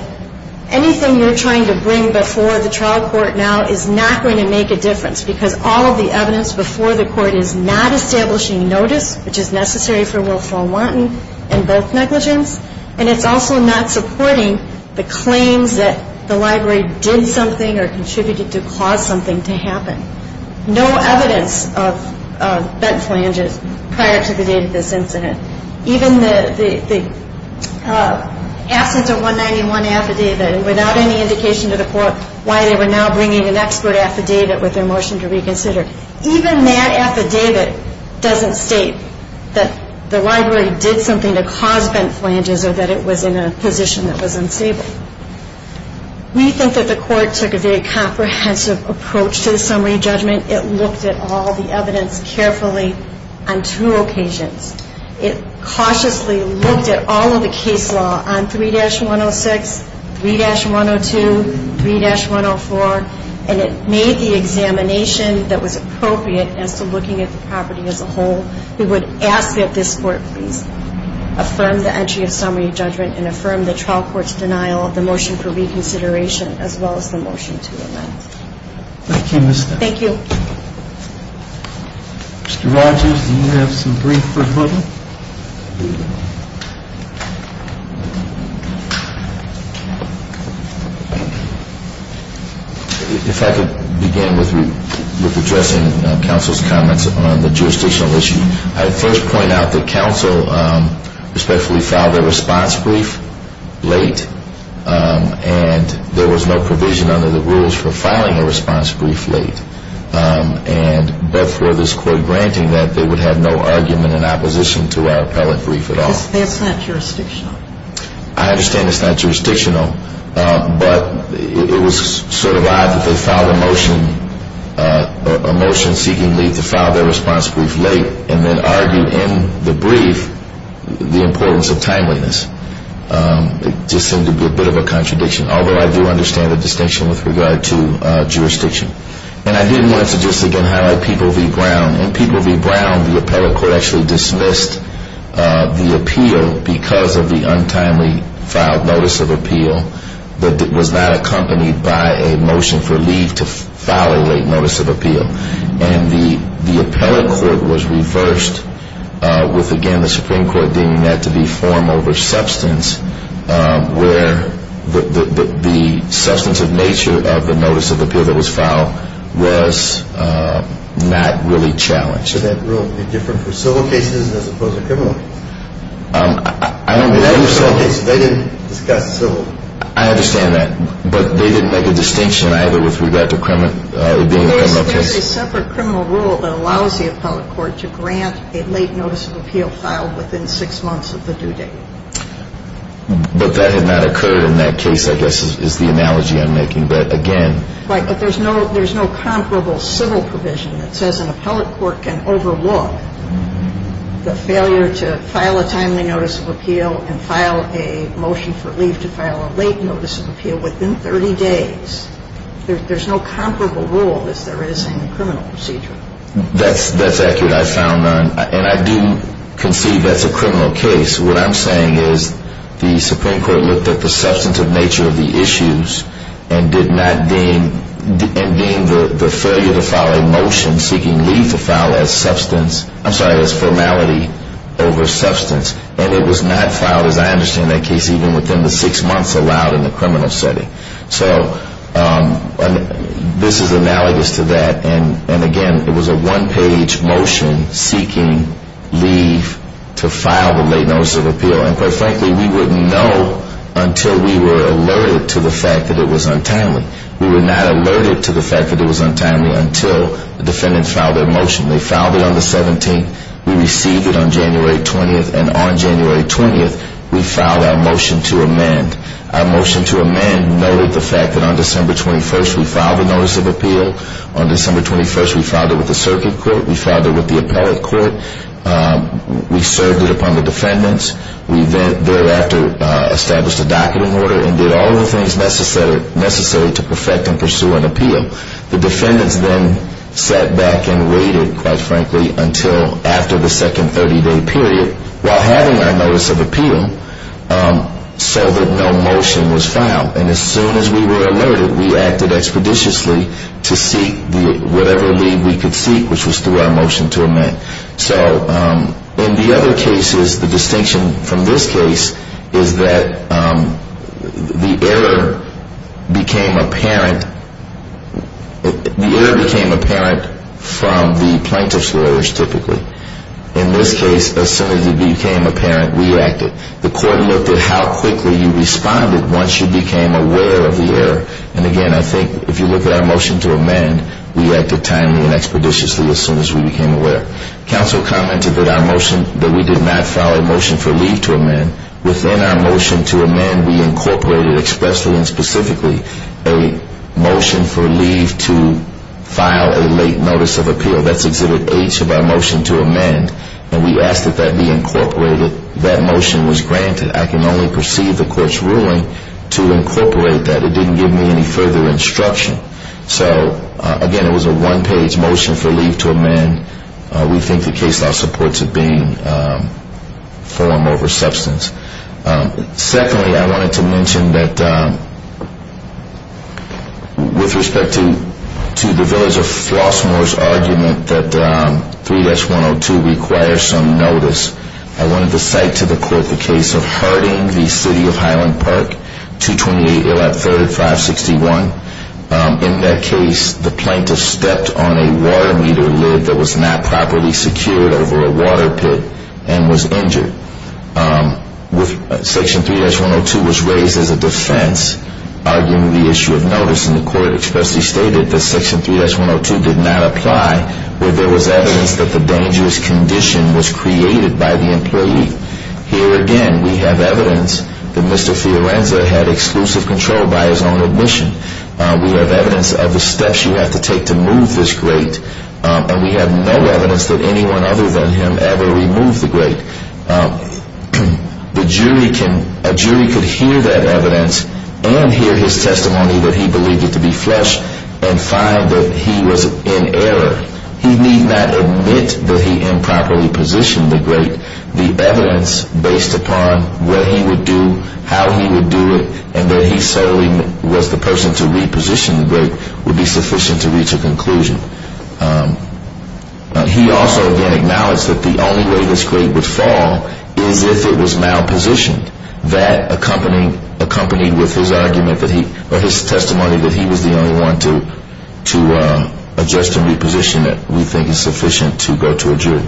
anything you're trying to bring before the trial court now is not going to make a difference, because all of the evidence before the court is not establishing notice, which is necessary for Wilfo and Wanton in both negligence, and it's also not supporting the claims that the library did something or contributed to cause something to happen. No evidence of bent flanges prior to the date of this incident. Even the absence of 191 affidavit, and without any indication to the court why they were now bringing an expert affidavit with their motion to reconsider, even that affidavit doesn't state that the library did something to cause bent flanges or that it was in a position that was unstable. We think that the court took a very comprehensive approach to the summary judgment. It looked at all the evidence carefully on two occasions. It cautiously looked at all of the case law on 3-106, 3-102, 3-104, and it made the examination that was appropriate as to looking at the property as a whole. We would ask that this court please affirm the entry of summary judgment and affirm the trial court's denial of the motion for reconsideration, as well as the motion to amend. Thank you, Ms. Stein. Thank you. Mr. Rogers, do you have some brief rebuttal? If I could begin with addressing counsel's comments on the jurisdictional issue. I'd first point out that counsel respectfully filed a response brief late and there was no provision under the rules for filing a response brief late, but for this court granting that they would have no argument in opposition to our appellate brief at all. It's not jurisdictional. I understand it's not jurisdictional, but it was sort of odd that they filed a motion seeking leave to file their response brief late and then argued in the brief the importance of timeliness. It just seemed to be a bit of a contradiction, although I do understand the distinction with regard to jurisdiction. And I did want to just again highlight People v. Brown. In People v. Brown, the appellate court actually dismissed the appeal because of the untimely filed notice of appeal that was not accompanied by a motion for leave to file a late notice of appeal. And the appellate court was reversed with, again, the Supreme Court deeming that to be form over substance, where the substantive nature of the notice of appeal that was filed was not really challenged. So that rule would be different for civil cases as opposed to criminal cases? I don't think so. They didn't discuss civil. I understand that, but they didn't make a distinction either with regard to criminal cases. There's a separate criminal rule that allows the appellate court to grant a late notice of appeal filed within six months of the due date. But that had not occurred in that case, I guess, is the analogy I'm making. But, again... Right, but there's no comparable civil provision that says an appellate court can overlook the failure to file a timely notice of appeal and file a motion for leave to file a late notice of appeal within 30 days. There's no comparable rule as there is in the criminal procedure. That's accurate. I found none. And I do conceive that's a criminal case. What I'm saying is the Supreme Court looked at the substantive nature of the issues and did not deem the failure to file a motion seeking leave to file as formality over substance. And it was not filed, as I understand that case, even within the six months allowed in the criminal setting. So this is analogous to that. And, again, it was a one-page motion seeking leave to file the late notice of appeal. And, quite frankly, we wouldn't know until we were alerted to the fact that it was untimely. We were not alerted to the fact that it was untimely until the defendants filed their motion. They filed it on the 17th. We received it on January 20th. And on January 20th, we filed our motion to amend. Our motion to amend noted the fact that on December 21st, we filed the notice of appeal. On December 21st, we filed it with the circuit court. We filed it with the appellate court. We served it upon the defendants. We thereafter established a docketing order and did all the things necessary to perfect and pursue an appeal. The defendants then sat back and waited, quite frankly, until after the second 30-day period. While having our notice of appeal, so that no motion was filed. And as soon as we were alerted, we acted expeditiously to seek whatever leave we could seek, which was through our motion to amend. So in the other cases, the distinction from this case is that the error became apparent. The error became apparent from the plaintiff's lawyers, typically. In this case, as soon as it became apparent, we acted. The court looked at how quickly you responded once you became aware of the error. And again, I think if you look at our motion to amend, we acted timely and expeditiously as soon as we became aware. Counsel commented that we did not file a motion for leave to amend. Within our motion to amend, we incorporated expressly and specifically a motion for leave to file a late notice of appeal. So that's Exhibit H of our motion to amend. And we asked that that be incorporated. That motion was granted. I can only perceive the court's ruling to incorporate that. It didn't give me any further instruction. So again, it was a one-page motion for leave to amend. We think the case law supports it being form over substance. Secondly, I wanted to mention that with respect to the Village of Flossmoor's argument that 3-102 requires some notice, I wanted to cite to the court the case of hurting the City of Highland Park, 228 Allap Third at 561. In that case, the plaintiff stepped on a water meter lid that was not properly secured over a water pit and was injured. Section 3-102 was raised as a defense, arguing the issue of notice, and the court expressly stated that Section 3-102 did not apply where there was evidence that the dangerous condition was created by the employee. Here again, we have evidence that Mr. Fiorenza had exclusive control by his own admission. We have evidence of the steps you have to take to move this grate, and we have no evidence that anyone other than him ever removed the grate. A jury could hear that evidence and hear his testimony that he believed it to be flesh and find that he was in error. He need not admit that he improperly positioned the grate. The evidence based upon what he would do, how he would do it, and that he solely was the person to reposition the grate would be sufficient to reach a conclusion. He also again acknowledged that the only way this grate would fall is if it was malpositioned, that accompanied with his testimony that he was the only one to adjust and reposition it, we think is sufficient to go to a jury.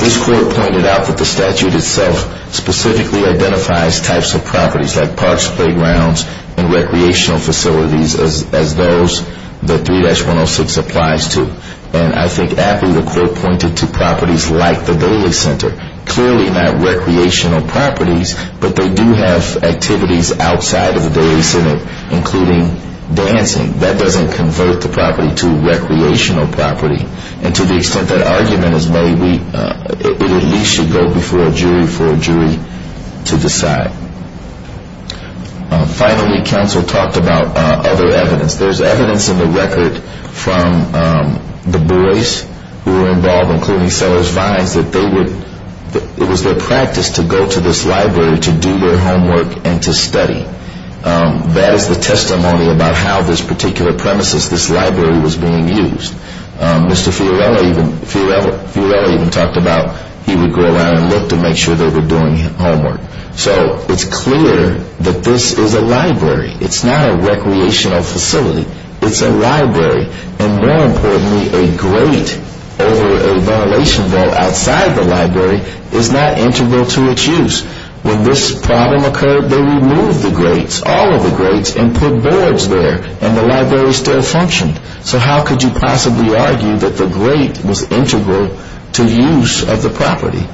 This court pointed out that the statute itself specifically identifies types of properties like parks, playgrounds, and recreational facilities as those that 3-106 applies to. And I think aptly the court pointed to properties like the Daily Center. Clearly not recreational properties, but they do have activities outside of the Daily Center, including dancing. That doesn't convert the property to recreational property. And to the extent that argument is made, it at least should go before a jury for a jury to decide. Finally, counsel talked about other evidence. There's evidence in the record from the boys who were involved, including Sellers Vines, that it was their practice to go to this library to do their homework and to study. That is the testimony about how this particular premises, this library, was being used. Mr. Fiorello even talked about he would go around and look to make sure they were doing homework. So it's clear that this is a library. It's not a recreational facility. It's a library. And more importantly, a grate over a ventilation valve outside the library is not integral to its use. When this problem occurred, they removed the grates, all of the grates, and put boards there, and the library still functioned. So how could you possibly argue that the grate was integral to use of the property?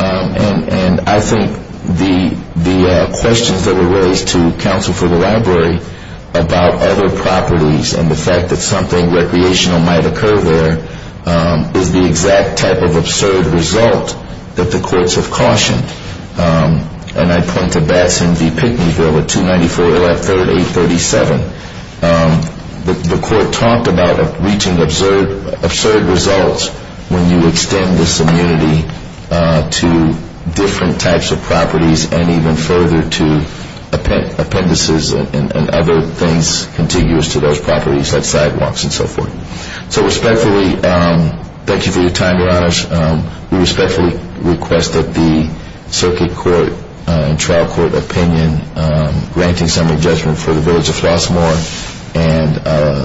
And I think the questions that were raised to counsel for the library about other properties and the fact that something recreational might occur there is the exact type of absurd result that the courts have cautioned. And I point to Batson v. Pinckneyville at 294.837. The court talked about reaching absurd results when you extend this immunity to different types of properties and even further to appendices and other things contiguous to those properties, like sidewalks and so forth. So respectfully, thank you for your time, Your Honors. We respectfully request that the circuit court and trial court opinion granting summary judgment for the Village of Flossmoor and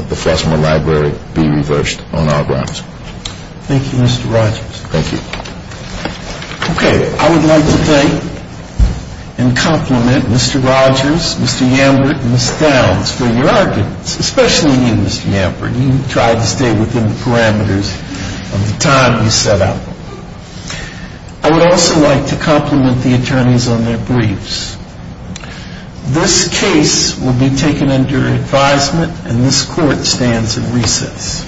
the Flossmoor Library be reversed on all grounds. Thank you, Mr. Rogers. Thank you. Okay. I would like to thank and compliment Mr. Rogers, Mr. Yambert, and Ms. Downs for your arguments, especially you, Mr. Yambert. You tried to stay within the parameters of the time you set up. I would also like to compliment the attorneys on their briefs. This case will be taken under advisement, and this court stands at recess.